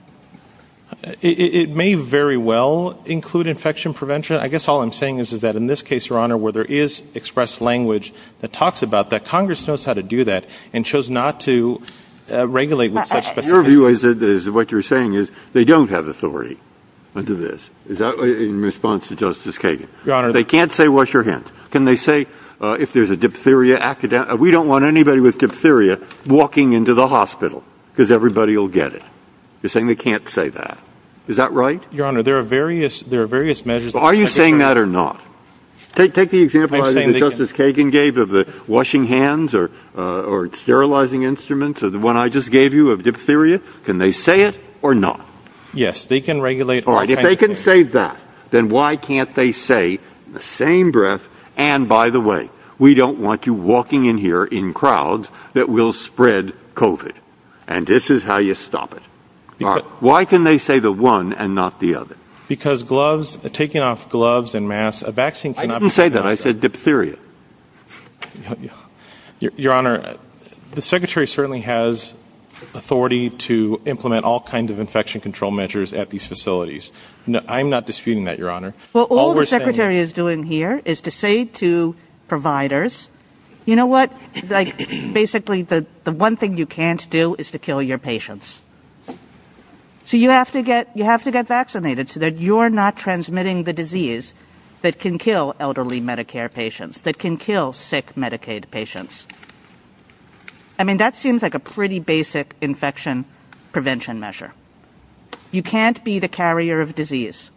It may very well include infection prevention. I guess all I'm saying is, is that in this case, your honor, where there is expressed language that Congress knows how to do that and chose not to regulate. But your view is, is what you're saying is they don't have authority into this. Is that in response to Justice Kagan? They can't say, wash your hands. Can they say if there's a diphtheria academic, we don't want anybody with diphtheria walking into the hospital because everybody will get it. You're saying they can't say that. Is that right? Your honor, there are various, there are various measures. Are you saying that or not? Take the example Justice Kagan gave of the washing hands or sterilizing instruments or the one I just gave you of diphtheria. Can they say it or not? Yes, they can regulate. All right. If they can say that, then why can't they say the same breath? And by the way, we don't want you walking in here in crowds that will spread COVID. And this is how you stop it. Why can they say the one and not the other? Because gloves, taking off gloves and masks, a vaccine. I didn't say that. I said diphtheria. Your honor, the secretary certainly has authority to implement all kinds of infection control measures at these facilities. I'm not disputing that, your honor. Well, all the secretary is doing here is to say to providers, you know what, basically the one thing you can't do is to kill your patients. So you have to get, you have to get vaccinated so that you're not transmitting the disease that can kill elderly Medicare patients that can kill sick Medicaid patients. I mean, that seems like a pretty basic infection prevention measure. You can't be the carrier of disease.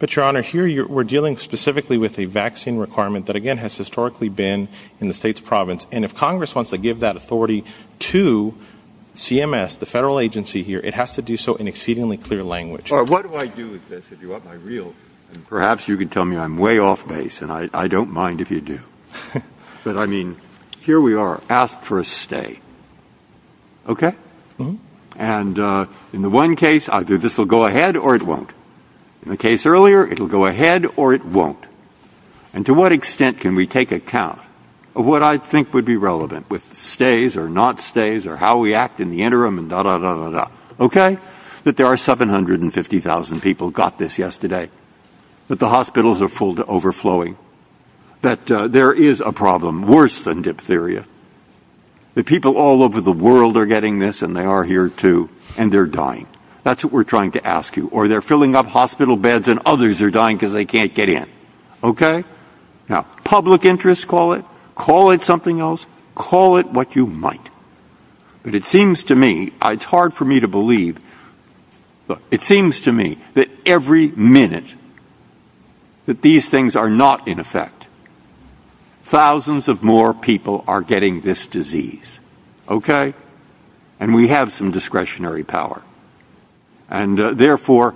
But your honor, here we're dealing specifically with a vaccine requirement that again has historically been in the state's province. And if Congress wants to give that authority to CMS, the federal agency here, it has to do so in exceedingly clear language. Or what do I do with this if you want my real, and perhaps you could tell me I'm way off base and I don't mind if you do. But I mean, here we are, ask for a stay. Okay. And in the one case, either this will go ahead or it won't. In the case earlier, it'll go ahead or it won't. And to what extent can we take account of what I think would be relevant with not stays or how we act in the interim and da, da, da, da, da, okay? That there are 750,000 people got this yesterday. But the hospitals are full to overflowing. That there is a problem worse than diphtheria. The people all over the world are getting this and they are here too. And they're dying. That's what we're trying to ask you. Or they're filling up hospital beds and others are dying because they can't get in. Okay? Now, public interest, call it, call it something else, call it what you might. But it seems to me, it's hard for me to believe, but it seems to me that every minute that these things are not in effect, thousands of more people are getting this disease. Okay? And we have some discretionary power. And therefore,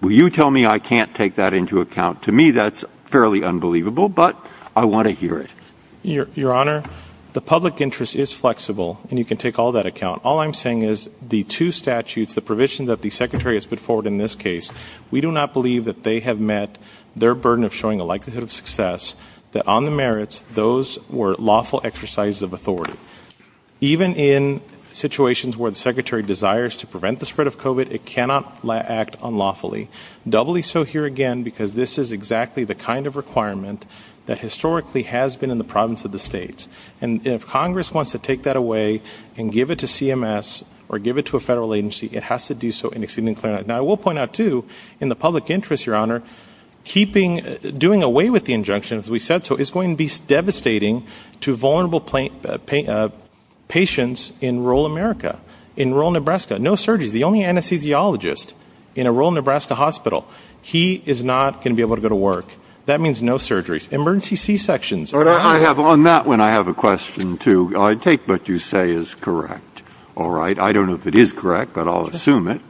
will you tell me I can't take that into account? To me, that's unbelievable, but I want to hear it. Your Honor, the public interest is flexible and you can take all that account. All I'm saying is the two statutes, the provisions that the secretary has put forward in this case, we do not believe that they have met their burden of showing a likelihood of success that on the merits, those were lawful exercises of authority. Even in situations where the secretary desires to prevent the spread of COVID, it cannot act unlawfully. Doubly so here again, because this is exactly the kind of requirement that historically has been in the province of the states. And if Congress wants to take that away and give it to CMS or give it to a federal agency, it has to do so in excuse me. Now, I will point out too, in the public interest, Your Honor, keeping, doing away with the injunction, as we said, so it's going to be devastating to vulnerable patients in rural America, in rural Nebraska, no surgeries. The only anesthesiologist in a rural Nebraska hospital, he is not going to be able to go to work. That means no surgeries, emergency C-sections. On that one, I have a question too. I take what you say is correct. All right. I don't know if it is correct, but I'll assume it.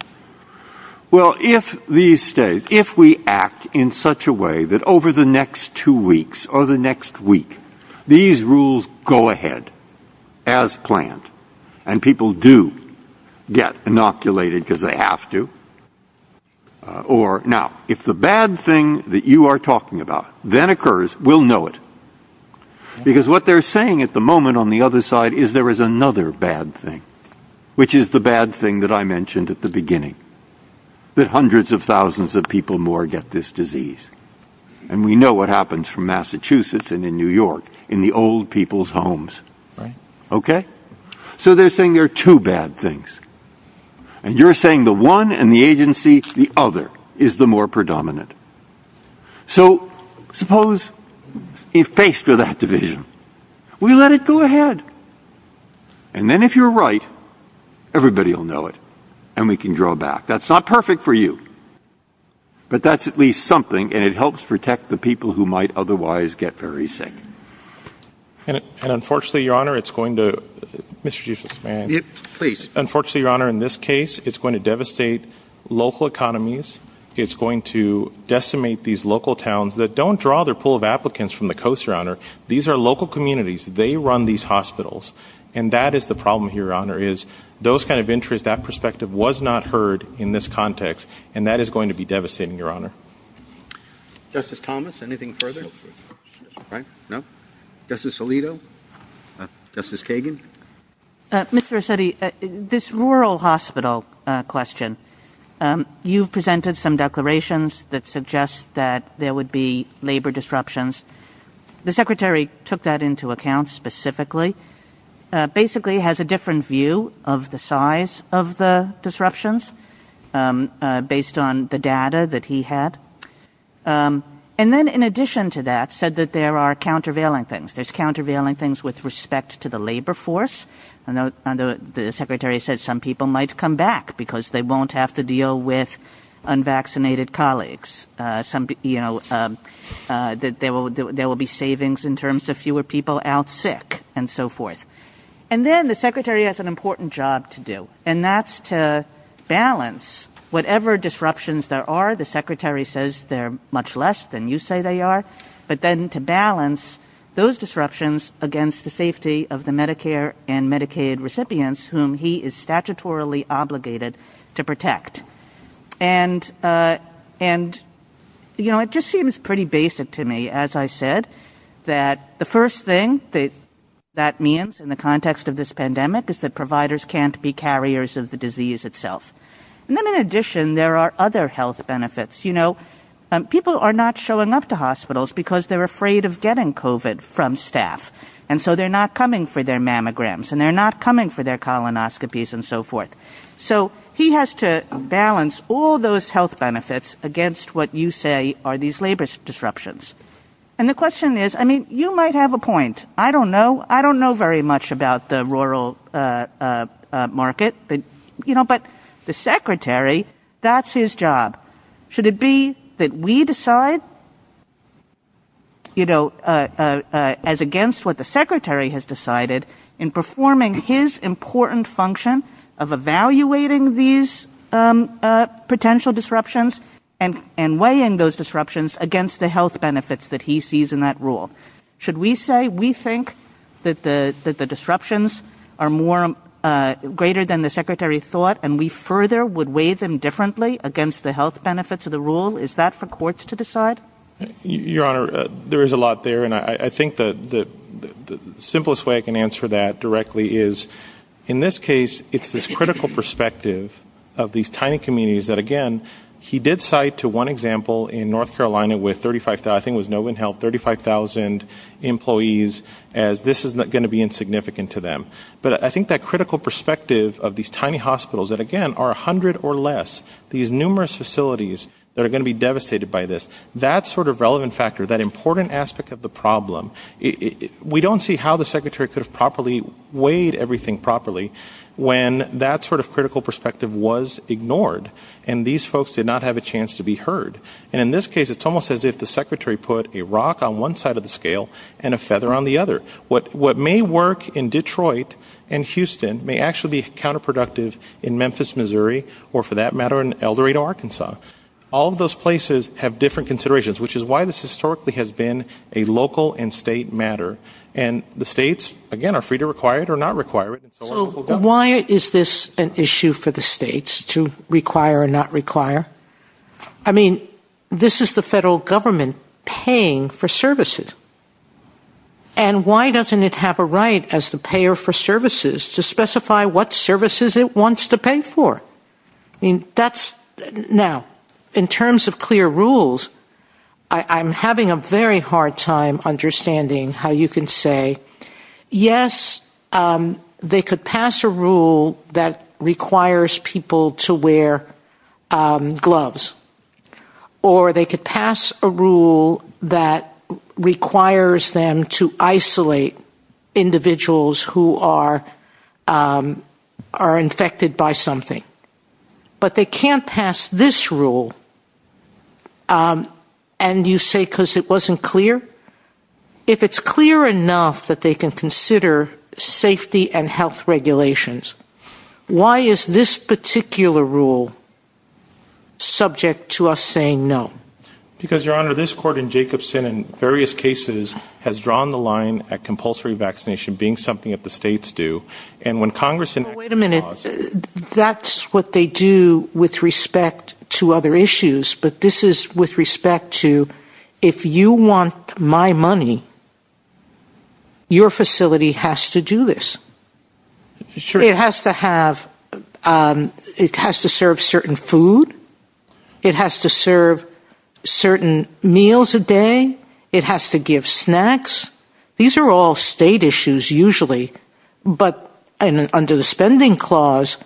Well, if these states, if we act in such a way that over the next two weeks or the next week, these rules go ahead as planned, and people do get inoculated because they have to, or now, if the bad thing that you are talking about then occurs, we'll know it. Because what they're saying at the moment on the other side is there is another bad thing, which is the bad thing that I mentioned at the beginning, that hundreds of thousands of people get this disease. We know what happens from Massachusetts and New York in the old people's homes. They are saying there are two bad things. You are saying the one and the agency, the other is the more predominant. Suppose if based on that division, we let it go ahead, and then if you are right, everybody will know it, and we can draw back. That's not perfect for you, but that is at least something, and it helps protect the people who might otherwise get very sick. Unfortunately, Your Honor, in this case, it is going to devastate local economies. It is going to decimate these local towns that don't draw their pool of applicants from the coast, Your Honor. These are local communities. They run these hospitals, and that is the problem here, Your Honor, those kinds of interests, that perspective was not heard in this context, and that is going to be devastating, Your Honor. Justice Thomas, anything further? Justice Alito? Justice Kagan? Mr. Rossetti, this rural hospital question, you presented some declarations that suggest that there would be labor disruptions. The Secretary took that into account specifically. Basically, he has a different view of the size of the disruptions based on the data that he had, and then in addition to that, said that there are countervailing things. There are countervailing things with respect to the labor force, and the Secretary said some people might come back because they won't have to deal with fewer people out sick, and so forth. Then the Secretary has an important job to do, and that is to balance whatever disruptions there are. The Secretary says there are much less than you say there are, but then to balance those disruptions against the safety of the Medicare and Medicaid recipients whom he is statutorily obligated to protect. It just seems pretty basic to me, as I said, that the first thing that that means in the context of this pandemic is that providers can't be carriers of the disease itself. Then in addition, there are other health benefits. People are not showing up to hospitals because they're afraid of getting COVID from staff, and so they're not coming for their mammograms, and they're not coming for their colonoscopies, and so forth. He has to balance all those health benefits against what you say are these labor disruptions. The question is, I mean, you might have a point. I don't know. I don't know very much about the rural market, but the Secretary, that's his job. Should it be that we decide as against what the Secretary has decided in performing his important function of evaluating these potential disruptions and weighing those disruptions against the health benefits that he sees in that rule? Should we say we think that the disruptions are greater than the Secretary thought, and we further would weigh them differently against the health benefits of the rule? Is that for courts to decide? Your Honor, there is a lot there, and I critical perspective of these tiny communities that, again, he did cite to one example in North Carolina with 35,000, I think it was Novin Health, 35,000 employees as this is going to be insignificant to them. But I think that critical perspective of these tiny hospitals that, again, are 100 or less, these numerous facilities that are going to be devastated by this, that sort of relevant factor, that important aspect of the problem, we don't see how the Secretary could have properly properly when that sort of critical perspective was ignored and these folks did not have a chance to be heard. And in this case, it's almost as if the Secretary put a rock on one side of the scale and a feather on the other. What may work in Detroit and Houston may actually be counterproductive in Memphis, Missouri, or for that matter, in El Dorado, Arkansas. All of those places have different considerations, which is why this historically has been a local and state matter. And the states, again, are free to require it or not require it. Why is this an issue for the states to require or not require? I mean, this is the federal government paying for services. And why doesn't it have a right as the payer for services to specify what services it wants to pay for? I mean, that's Now, in terms of clear rules, I'm having a very hard time understanding how you can say, yes, they could pass a rule that requires people to wear gloves, or they could pass a rule that this rule. And you say, because it wasn't clear. If it's clear enough that they can consider safety and health regulations, why is this particular rule subject to us saying no? Because Your Honor, this court in Jacobson, in various cases, has drawn the line at compulsory vaccination being something that the states do. And when Congress and wait a minute, that's what they do with respect to other issues. But this is with respect to if you want my money, your facility has to do this. Sure, it has to have, it has to serve certain food, it has to serve certain meals a day, it has to give snacks. These are all state issues, usually. But under the spending clause,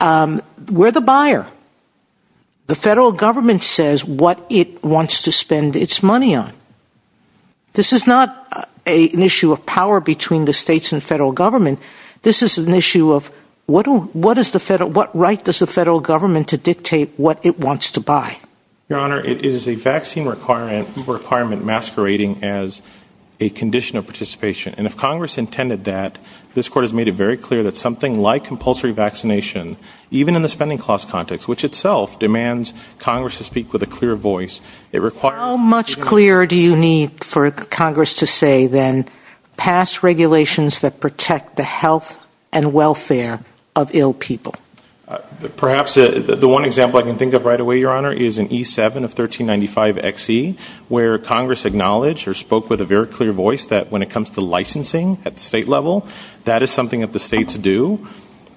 we're the buyer. The federal government says what it wants to spend its money on. This is not an issue of power between the states and federal government. This is an issue of what right does the federal government to dictate what it wants to buy? Your Honor, it is a vaccine requirement masquerading as a condition of participation. And if Congress intended that, this court has made it very clear that something like compulsory vaccination, even in the spending clause context, which itself demands Congress to speak with a clear voice, it requires... How much clearer do you need for Congress to say then pass regulations that protect the health and welfare of ill people? Perhaps the one example I can think of right away, Your Honor, is an E7 of 1395XE, where Congress acknowledged or spoke with a very clear voice that when it comes to licensing at the state level, that is something that the states do.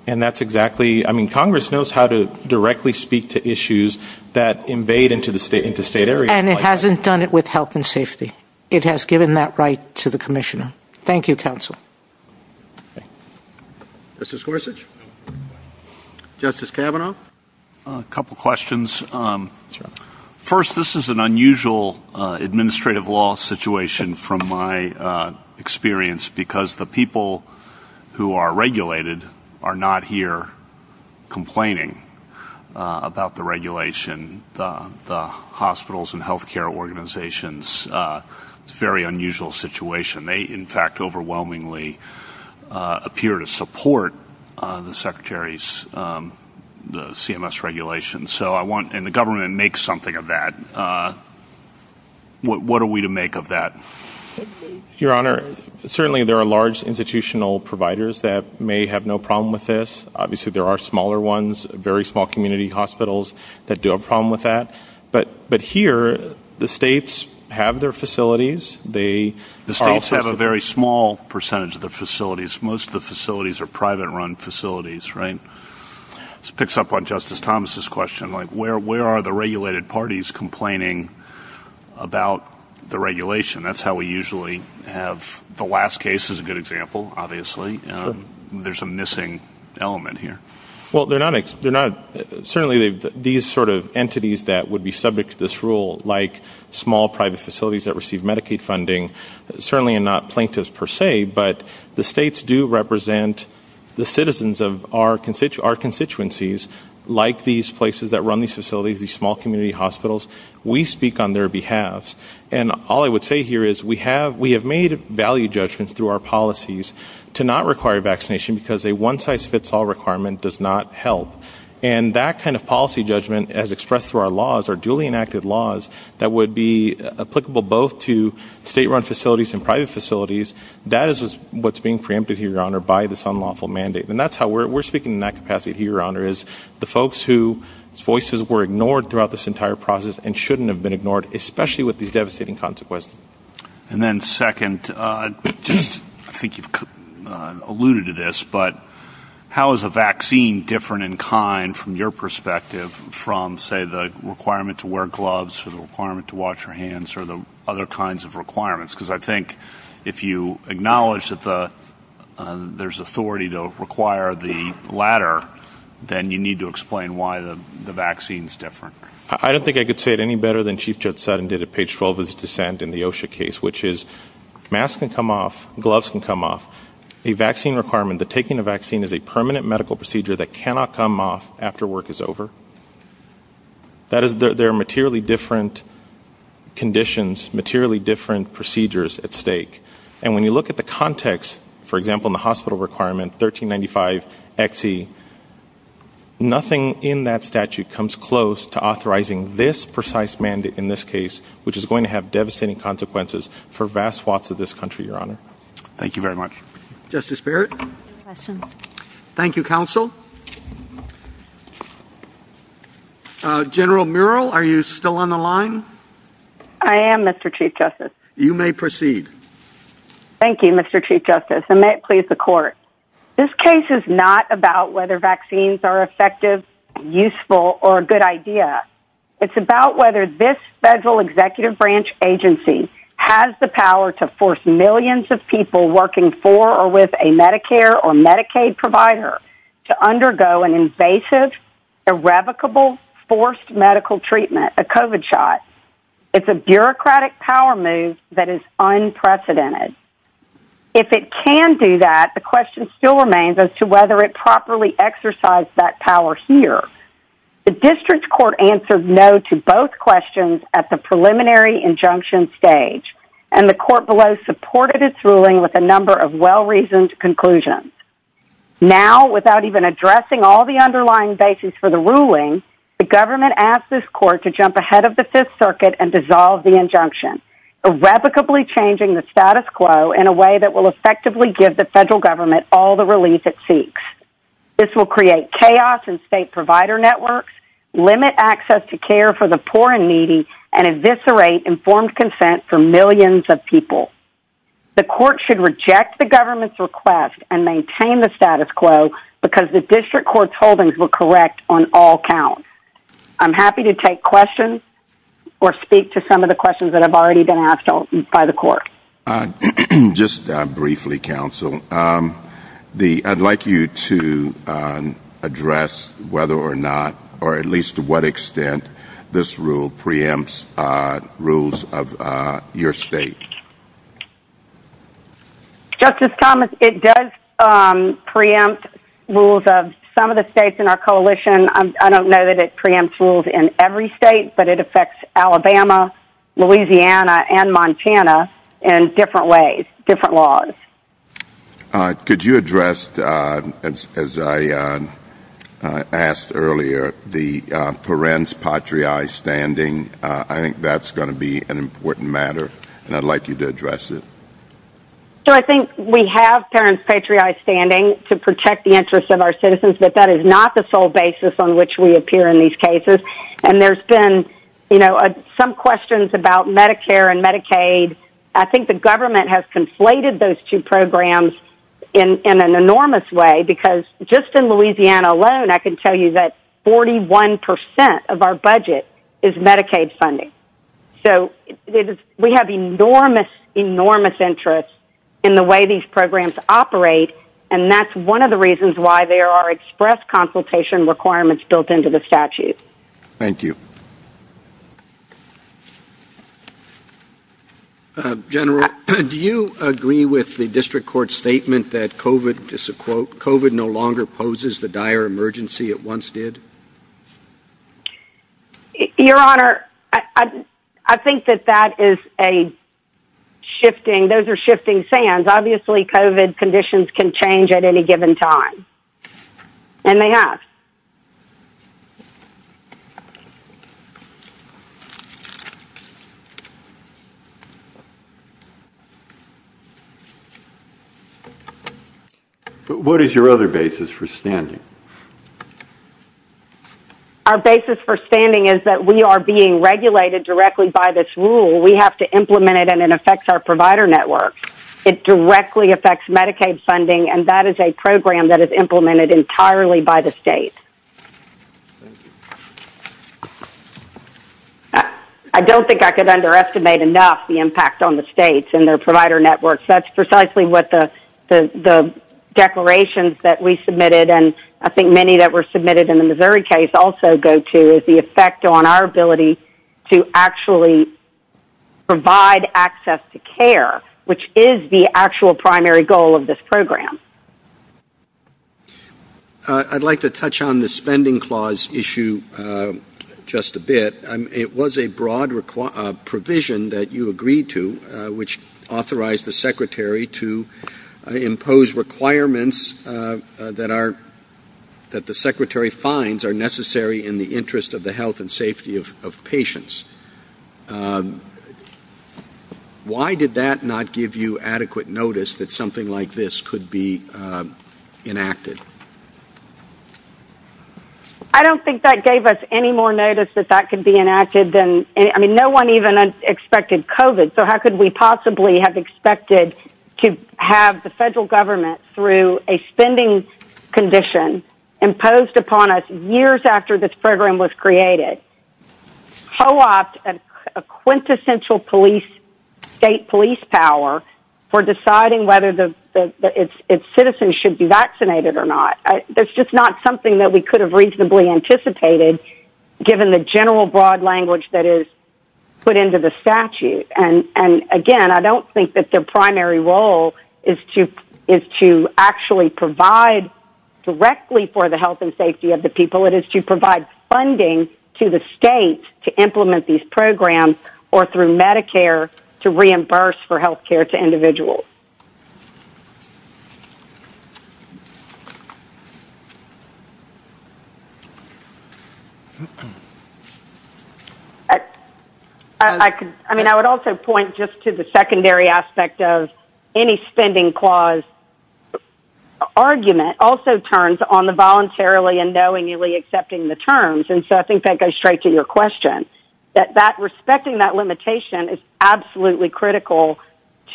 And that's exactly, I mean, Congress knows how to directly speak to issues that invade into the state area. And it hasn't done it with health and safety. It has given that right to the Commissioner. Thank you, counsel. Justice Gorsuch? Justice Kavanaugh? A couple questions. First, this is an unusual administrative law situation from my experience, because the people who are regulated are not here complaining about the regulation. The hospitals and healthcare organizations, it's a very unusual situation. They, in fact, overwhelmingly appear to support the Secretary's CMS regulations. So I want, and the government makes something of that. What are we to make of that? Your Honor, certainly, there are large institutional providers that may have no problem with this. Obviously, there are smaller ones, very small community hospitals that do have a problem with that. But here, the states have their facilities, they... Very small percentage of the facilities, most of the facilities are private-run facilities, right? This picks up on Justice Thomas's question, like, where are the regulated parties complaining about the regulation? That's how we usually have... The last case is a good example, obviously. There's a missing element here. Well, they're not... Certainly, these sort of entities that would be subject to this rule, like small private facilities that receive Medicaid funding, certainly are not plaintiffs per se, but the states do represent the citizens of our constituencies, like these places that run these facilities, these small community hospitals. We speak on their behalf. And all I would say here is we have made value judgments through our policies to not require vaccination because a one-size-fits-all requirement does not help. And that kind of policy judgment, as expressed through our laws, our duly enacted laws, that would be applicable both to state-run facilities and private facilities, that is what's being preempted here, Your Honor, by this unlawful mandate. And that's how we're speaking in that capacity here, Your Honor, is the folks whose voices were ignored throughout this entire process and shouldn't have been ignored, especially with these devastating consequences. And then second, I think you've alluded to this, but how is a vaccine different in kind from your perspective from, say, the requirement to wear gloves or the requirement to wash your hands or the other kinds of requirements? Because I think if you acknowledge that there's authority to require the latter, then you need to explain why the vaccine's different. I don't think I could say it any better than Chief Judge Sutton did at page 12 of his dissent in the OSHA case, which is masks can come off, gloves can come off. A vaccine requirement, the taking of vaccine is a permanent medical procedure that cannot come off after work is over. That is, there are materially different conditions, materially different procedures at stake. And when you look at the context, for example, in the hospital requirement, 1395XE, nothing in that statute comes close to authorizing this precise mandate in this case, which is going to have devastating consequences for vast swaths of this country, Your Honor. Thank you very much. Justice Barrett. Thank you, counsel. General Murrell, are you still on the line? I am, Mr. Chief Justice. You may proceed. Thank you, Mr. Chief Justice, and may it please the court. This case is not about whether vaccines are effective, useful, or a good idea. It's about whether this federal executive branch agency has the power to force millions of people working for or with a Medicare or Medicaid provider to undergo an invasive, irrevocable, forced medical treatment, a COVID shot. It's a bureaucratic power move that is unprecedented. If it can do that, the question still remains as to whether it properly exercised that power here. The district court answered no to both questions at the preliminary injunction stage, and the court below supported its ruling with a number of well-reasoned conclusions. Now, without even addressing all the underlying basis for the ruling, the government asked this court to jump ahead of the Fifth Circuit and dissolve the injunction, irrevocably changing the status quo in a way that will effectively give the federal government all the relief it seeks. This will create chaos in state provider networks, limit access to care for the poor and needy, and eviscerate informed consent for millions of people. The court should reject the government's request and maintain the status quo because the district court's holdings were correct on all counts. I'm happy to take questions or speak to some of the questions that have already been asked by the court. I'd like you to address whether or not, or at least to what extent, this rule preempts rules of your state. Justice Thomas, it does preempt rules of some of the states in our coalition. I don't know that it preempts rules in every state, but it affects Alabama, Louisiana, and Montana, and different ways, different laws. Could you address, as I asked earlier, the parens patriae standing? I think that's going to be an important matter, and I'd like you to address it. So I think we have parents patriae standing to protect the interests of our citizens, but that is not the sole basis on which we appear in these cases. And there's been some questions about Medicare and Medicaid. I think the government has conflated those two programs in an enormous way, because just in Louisiana alone, I can tell you that 41% of our budget is Medicaid funding. So we have enormous, enormous interest in the way these programs operate, and that's one of the reasons why there are express consultation requirements built into the statute. Thank you. General, do you agree with the district court statement that COVID, just a quote, COVID no longer poses the dire emergency it once did? Your Honor, I think that that is a shifting, those are shifting sands. Obviously, COVID conditions can change at any given time, and they have. What is your other basis for standing? Our basis for standing is that we are being regulated directly by this rule. We have to Medicaid funding, and that is a program that is implemented entirely by the state. I don't think I could underestimate enough the impact on the states and their provider networks. That's precisely what the declarations that we submitted, and I think many that were submitted in the Missouri case also go to, is the effect on our ability to actually provide access to care, which is the actual primary goal of this program. I'd like to touch on the spending clause issue just a bit. It was a broad provision that you agreed to, which authorized the secretary to impose requirements that the secretary finds are necessary in the interest of the health and safety of patients. Why did that not give you adequate notice that something like this could be enacted? I don't think that gave us any more notice that that could be enacted. No one even expected COVID, so how could we possibly have expected to have the federal government through a spending condition imposed upon us years after this program was created? It co-opted a quintessential state police power for deciding whether its citizens should be vaccinated or not. That's just not something that we could have reasonably anticipated, given the general broad language that is put into the statute. Again, I don't think that the primary role is to actually provide directly for the health and safety of individuals. I think it's up to the state to implement these programs or through Medicare to reimburse for health care to individuals. I would also point just to the secondary aspect of any spending clause. Argument also turns on the voluntarily and knowingly accepting the terms, and so I think that goes straight to your question. Respecting that limitation is absolutely critical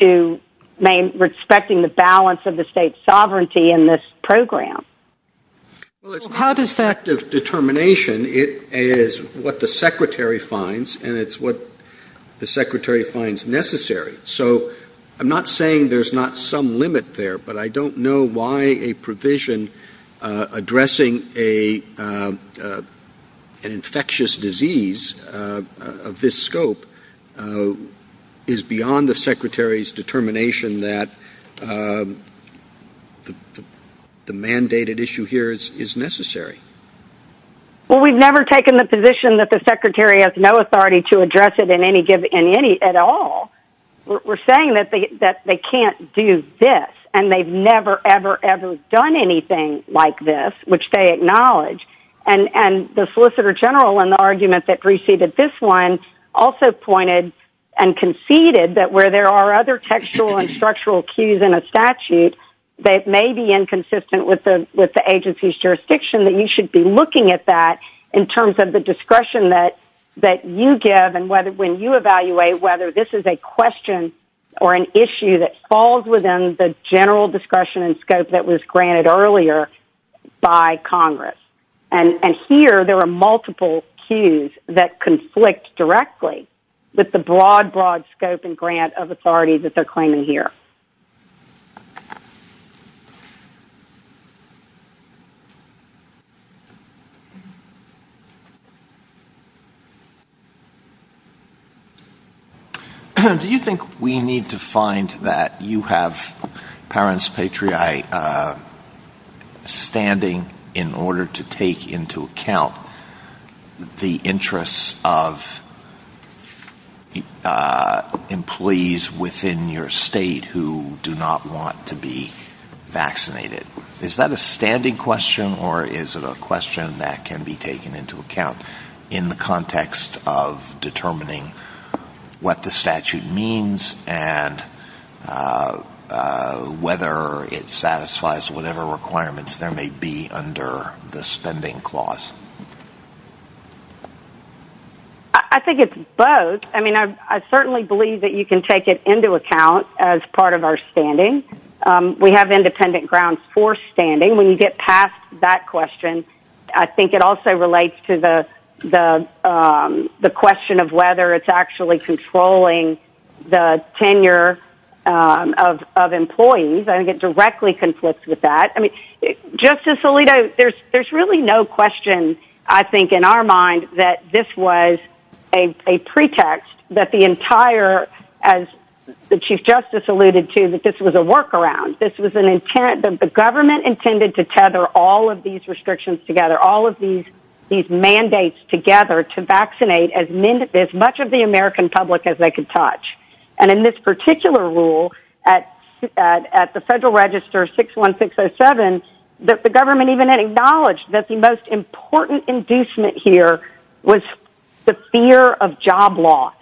to respecting the balance of the state's sovereignty in this program. How does that determination? It is what the Secretary finds, and it's what the Secretary finds necessary. I'm not saying there's not some limit there, but I don't know why a provision addressing an infectious disease of this scope is beyond the Secretary's determination that the mandated issue here is necessary. We've never taken the position that the Secretary has no authority to address it at all. We're saying that they can't do this, and they've never, ever, ever done anything like this, which they acknowledge. The Solicitor General, in the argument that preceded this one, also pointed and conceded that where there are other textual and structural cues in a statute that may be inconsistent with the agency's jurisdiction, that you should be looking at that terms of the discretion that you give and when you evaluate whether this is a question or an issue that falls within the general discretion and scope that was granted earlier by Congress, and here there are multiple cues that conflict directly with the broad, broad scope and grant of authority that they're claiming here. Q Do you think we need to find that you have Parents Patriot standing in order to take into account the interests of employees within your state who do not want to be vaccinated? Is that a standing question, or is it a question that can be taken into account in the context of determining what the statute means and whether it satisfies whatever requirements there may be under the spending clause? A I think it's both. I certainly believe that you can take it into account as part of our standing. We have independent grounds for standing. When you get past that question, I think it also relates to the question of whether it's actually controlling the tenure of employees. I think it directly conflicts with that. I mean, Justice Alito, there's really no question, I think, in our mind that this was a pretext that the entire, as the Chief Justice alluded to, that this was a workaround. The government intended to tether all of these restrictions together, all of these mandates together to vaccinate as much of the American public as they could touch. And in this particular rule, at the Federal Register 61607, that the government even acknowledged that the most important inducement was the fear of job loss.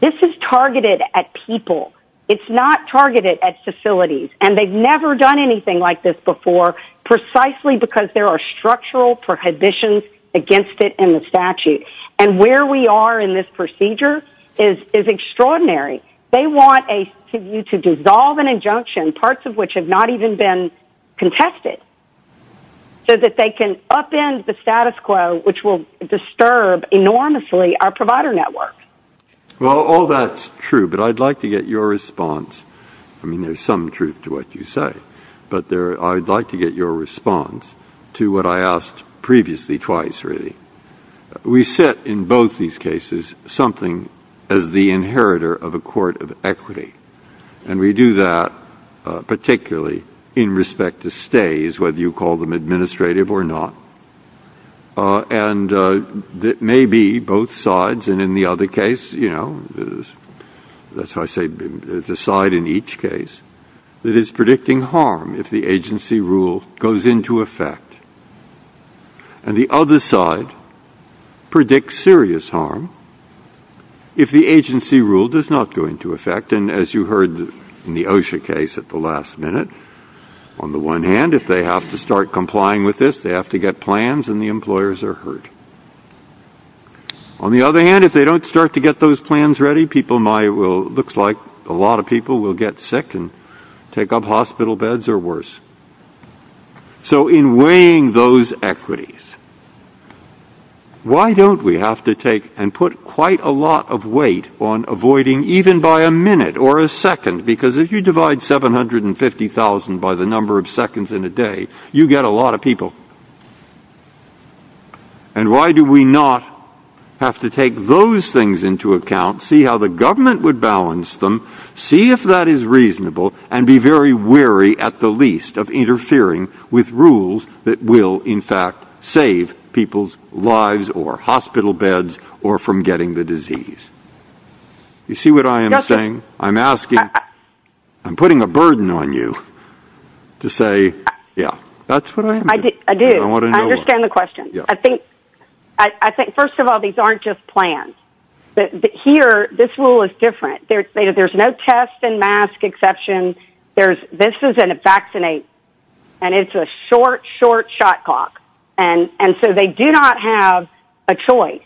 This is targeted at people. It's not targeted at facilities. And they've never done anything like this before, precisely because there are structural prohibitions against it in the statute. And where we are in this procedure is extraordinary. They want to dissolve an injunction, parts of which have not even been contested, so that they can upend the status quo, which will disturb enormously our provider network. Well, all that's true, but I'd like to get your response. I mean, there's some truth to what you say, but I'd like to get your response to what I asked previously twice, really. We set in both these cases something as the inheritor of a court of equity. And we do that particularly in respect to stays, whether you call them administrative or not. And that may be both sides. And in the other case, that's why I say there's a side in each case that is predicting harm if the agency rule goes into effect. And the other side predicts serious harm if the agency rule does not go into effect. And as you heard in the OSHA case at the last minute, on the one hand, if they have to start complying with this, they have to get plans and the employers are hurt. On the other hand, if they don't start to get those plans ready, it looks like a lot of people will get sick and take up hospital beds or worse. So in weighing those equities, why don't we have to take and avoiding even by a minute or a second? Because if you divide 750,000 by the number of seconds in a day, you get a lot of people. And why do we not have to take those things into account, see how the government would balance them, see if that is reasonable, and be very wary at the least of interfering with rules that will in fact save people's lives or hospital beds or from getting the disease? You see what I am saying? I'm asking, I'm putting a burden on you to say, yeah, that's what I do. I understand the question. I think, I think first of all, these aren't just plans. Here, this rule is different. There's no test and mask exception. This is in a vaccinate and it's a short, short shot clock. And so they do not have a choice.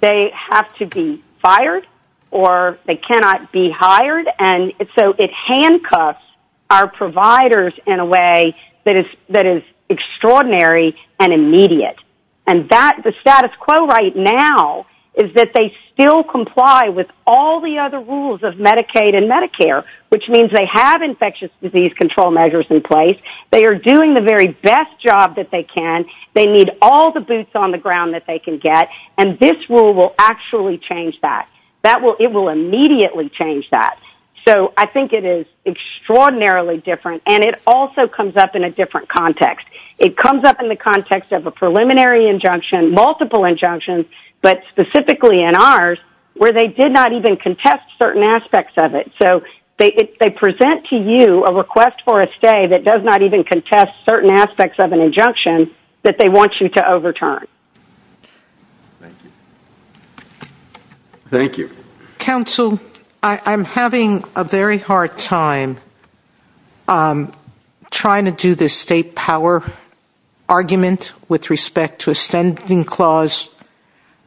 They have to be fired or they cannot be hired. And so it handcuffs our providers in a way that is, that is extraordinary and immediate. And that the status quo right now is that they still comply with all the other rules of Medicaid and Medicare, which means they have infectious disease control measures in place. They are doing the very best job that they can. They need all the boots on the ground. This rule will actually change that. That will, it will immediately change that. So I think it is extraordinarily different. And it also comes up in a different context. It comes up in the context of a preliminary injunction, multiple injunctions, but specifically in ours where they did not even contest certain aspects of it. So they present to you a request for a stay that does not even contest certain aspects of an injunction that they want you to do. Thank you. Counsel, I'm having a very hard time trying to do this state power argument with respect to a standing clause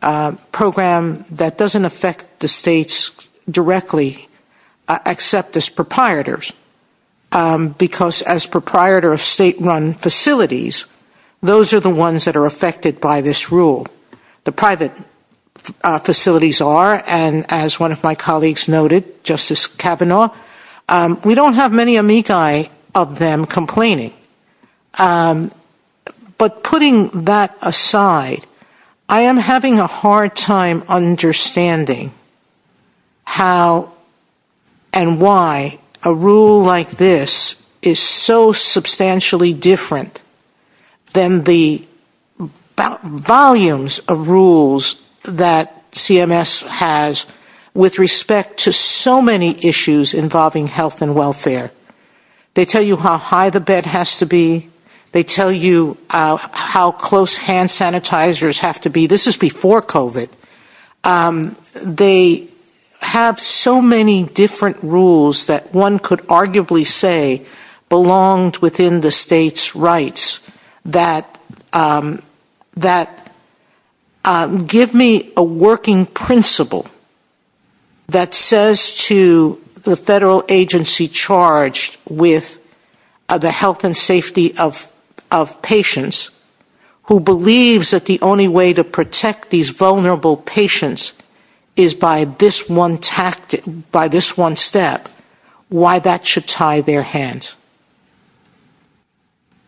program that doesn't affect the states directly except as proprietors. Because as proprietor of state run facilities, those are the ones that are affected by this rule. The private facilities are, and as one of my colleagues noted, Justice Kavanaugh, we don't have many amici of them complaining. But putting that aside, I am having a hard time understanding how and why a rule like this is so substantially different than the volumes of rules that CMS has with respect to so many issues involving health and welfare. They tell you how high the bed has to be. They tell you how close hand sanitizers have to be. This is before COVID. They have so many different rules that one could arguably say belonged within the state's rights that give me a working principle that says to the federal agency charged with the health and safety of patients who believes that the only way to protect these vulnerable patients is by this one step, why that should tie their hands.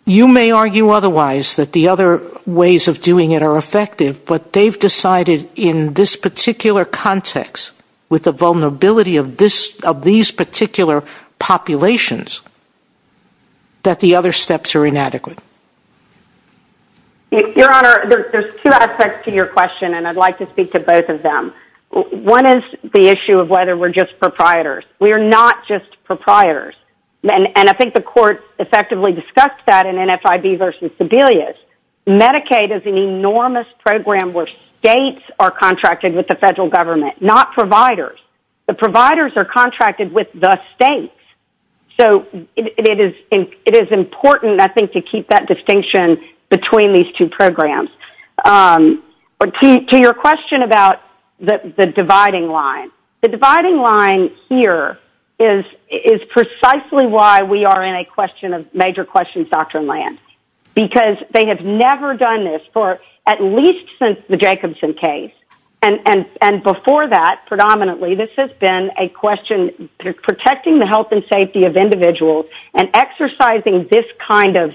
You may argue otherwise that the other ways of doing it are effective, but they have decided in this particular context with the vulnerability of these particular populations that the other steps are inadequate. Your Honor, there's two aspects to your question, and I'd like to speak to both of them. One is the issue of whether we're just proprietors. We're not just proprietors, and I think the court effectively discussed that in NFIB versus Sebelius. Medicaid is an enormous program where states are contracted with the federal government, not providers. The providers are contracted with the states, so it is important, I think, to keep that distinction between these two programs. To your question about the dividing line, the dividing line here is precisely why we are in a question of major questions, Dr. Lance, because they have never done this for at least since the Jacobson case, and before that, predominantly, this has been a question protecting the health and safety of individuals and exercising this kind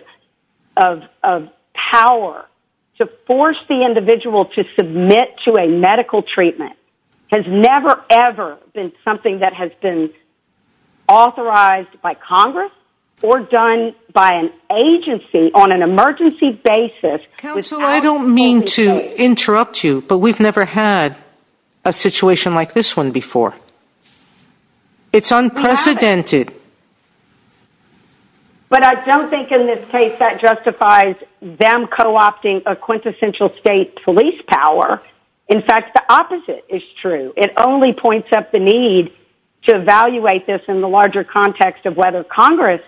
of power to force the individual to submit to a medical treatment has never, ever been something that has been authorized by Congress or done by an agency on an emergency basis. Counsel, I don't mean to interrupt you, but we've never had a situation like this one before. It's unprecedented. But I don't think in this case that justifies them co-opting a quintessential state police power. In fact, the opposite is true. It only points up the need to evaluate this in the larger context of whether Congress,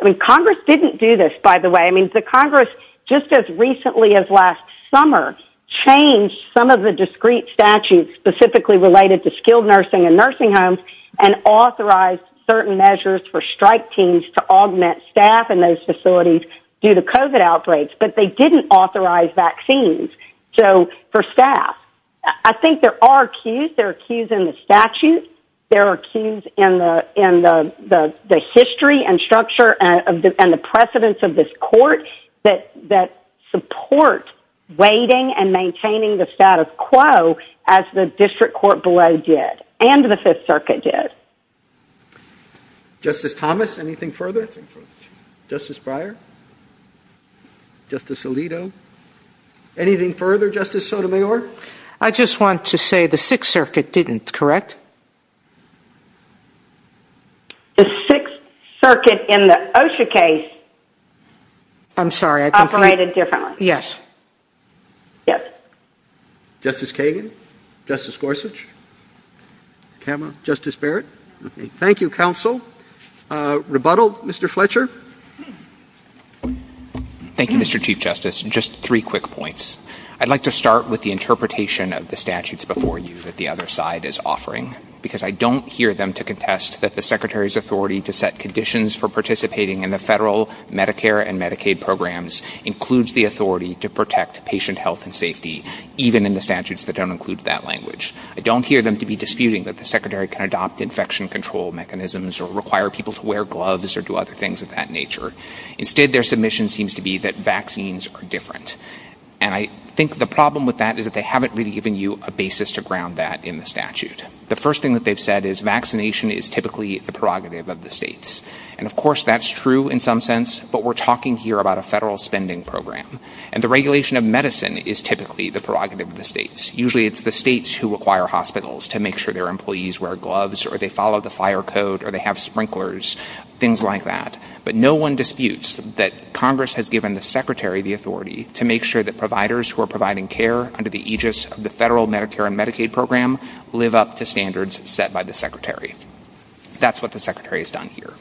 I mean, Congress didn't do this, by the way. I mean, the Congress, just as recently as last summer, changed some of the discrete statutes specifically related to skilled nursing and nursing homes and authorized certain measures for strike teams to augment staff in those facilities due to COVID outbreaks, but they didn't authorize vaccines for staff. I think there are cues. There are cues in the statute. There are cues in the history and structure and the precedence of this court that support weighting and maintaining the status quo as the district court below did and the Fifth Circuit did. Justice Thomas, anything further? Justice Breyer? Justice Alito? Anything further, Justice Sotomayor? I just want to say the Sixth Circuit didn't, correct? The Sixth Circuit in the OSHA case operated differently. Yes. Yes. Justice Kagan? Justice Gorsuch? Justice Barrett? Thank you, counsel. Rebuttal, Mr. Fletcher? Thank you, Mr. Chief Justice. Just three quick points. I'd like to start with the interpretation of the statutes before you that the other side is offering, because I don't hear them to contest that the Secretary's authority to set conditions for patient health and safety, even in the statutes that don't include that language. I don't hear them to be disputing that the Secretary can adopt infection control mechanisms or require people to wear gloves or do other things of that nature. Instead, their submission seems to be that vaccines are different. And I think the problem with that is that they haven't really given you a basis to ground that in the statute. The first thing that they've said is vaccination is typically the prerogative of the states. And of course, that's true in some sense, but we're talking here about a federal spending program. And the regulation of medicine is typically the prerogative of the states. Usually, it's the states who require hospitals to make sure their employees wear gloves or they follow the fire code or they have sprinklers, things like that. But no one disputes that Congress has given the Secretary the authority to make sure that providers who are providing care under the aegis of the federal Medicare and Medicaid program live up to standards set by the Secretary. That's what the Secretary has done here.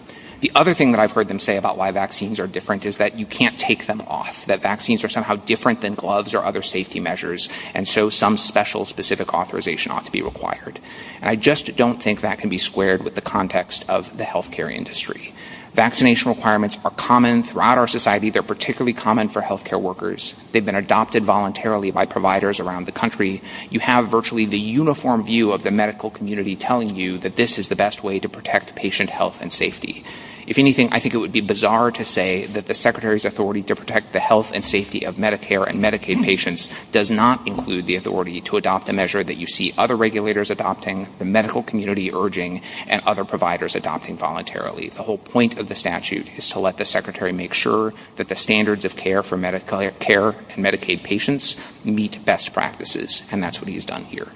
The other thing that I've heard him say about why vaccines are different is that you can't take them off, that vaccines are somehow different than gloves or other safety measures. And so some special specific authorization ought to be required. I just don't think that can be squared with the context of the health care industry. Vaccination requirements are common throughout our society. They're particularly common for health care workers. They've been adopted voluntarily by providers around the country. You have virtually the uniform view of the medical community telling you that this is the best way to be vaccinated. It would be bizarre to say that the Secretary's authority to protect the health and safety of Medicare and Medicaid patients does not include the authority to adopt the measure that you see other regulators adopting, the medical community urging, and other providers adopting voluntarily. The whole point of the statute is to let the Secretary make sure that the standards of care for Medicare and Medicaid patients meet best practices. And that's what he has done here.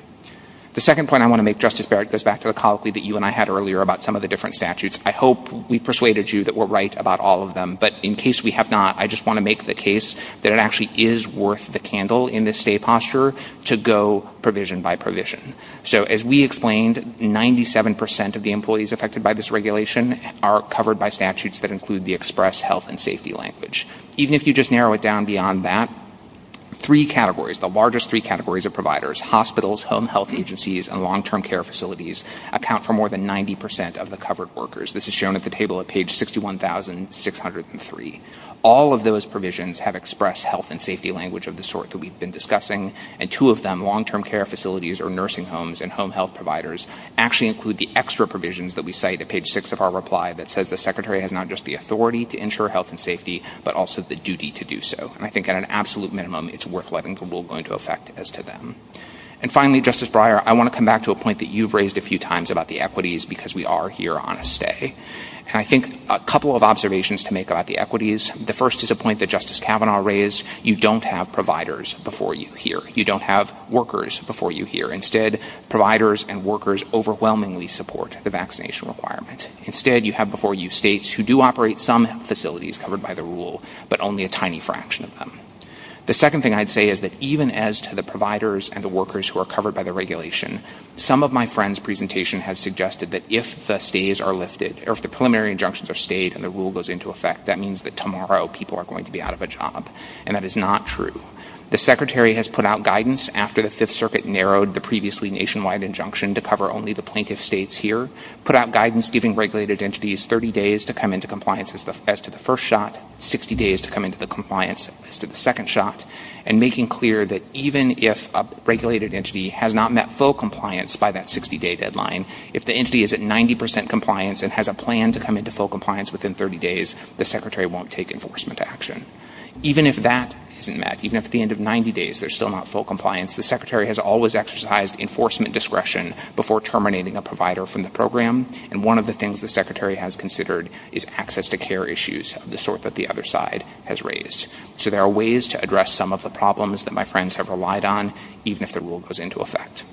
The second point I want to make, Justice Barrett, goes back to the colloquy that you and I had earlier about some of the different statutes. I hope we persuaded you that we're about all of them. But in case we have not, I just want to make the case that it actually is worth the candle in this state posture to go provision by provision. So as we explained, 97 percent of the employees affected by this regulation are covered by statutes that include the express health and safety language. Even if you just narrow it down beyond that, three categories, the largest three categories of providers, hospitals, home health agencies, and long-term care facilities, account for more than 90 percent of the covered workers. This is shown at the 1,603. All of those provisions have expressed health and safety language of the sort that we've been discussing. And two of them, long-term care facilities or nursing homes and home health providers, actually include the extra provisions that we cite at page six of our reply that says the Secretary has not just the authority to ensure health and safety, but also the duty to do so. And I think at an absolute minimum, it's worth letting the world go into effect as to them. And finally, Justice Breyer, I want to come back to a point that you've raised a few times about equities, because we are here on a stay. And I think a couple of observations to make about the equities. The first is a point that Justice Kavanaugh raised. You don't have providers before you here. You don't have workers before you here. Instead, providers and workers overwhelmingly support the vaccination requirement. Instead, you have before you states who do operate some facilities covered by the rule, but only a tiny fraction of them. The second thing I'd say is that even as to the providers and the workers who are covered by the regulation, some of my presentation has suggested that if the preliminary injunctions are stayed and the rule goes into effect, that means that tomorrow people are going to be out of a job. And that is not true. The Secretary has put out guidance after the Fifth Circuit narrowed the previously nationwide injunction to cover only the plaintiff states here, put out guidance giving regulated entities 30 days to come into compliance as to the first shot, 60 days to come into compliance as to the second shot, and making clear that even if a regulated entity has not met full compliance by that 60-day deadline, if the entity is at 90 percent compliance and has a plan to come into full compliance within 30 days, the Secretary won't take enforcement action. Even if that isn't met, even if at the end of 90 days there's still not full compliance, the Secretary has always exercised enforcement discretion before terminating a provider from the program. And one of the things the Secretary has considered is access to care issues of the sort that the other side has raised. So there are ways to address some of the problems that friends have relied on, even if the rule goes into effect.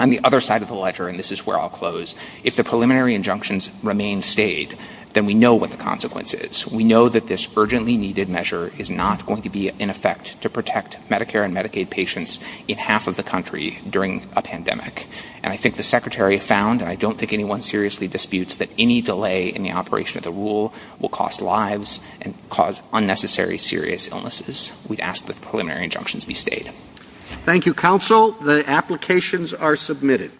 On the other side of the ledger, and this is where I'll close, if the preliminary injunctions remain staid, then we know what the consequence is. We know that this urgently needed measure is not going to be in effect to protect Medicare and Medicaid patients in half of the country during a pandemic. And I think the Secretary found, and I don't think anyone seriously disputes, that any delay in the operation of the rule will cost lives and cause unnecessary, serious illnesses. We ask that preliminary injunctions be stayed. Thank you, Counsel. The applications are submitted.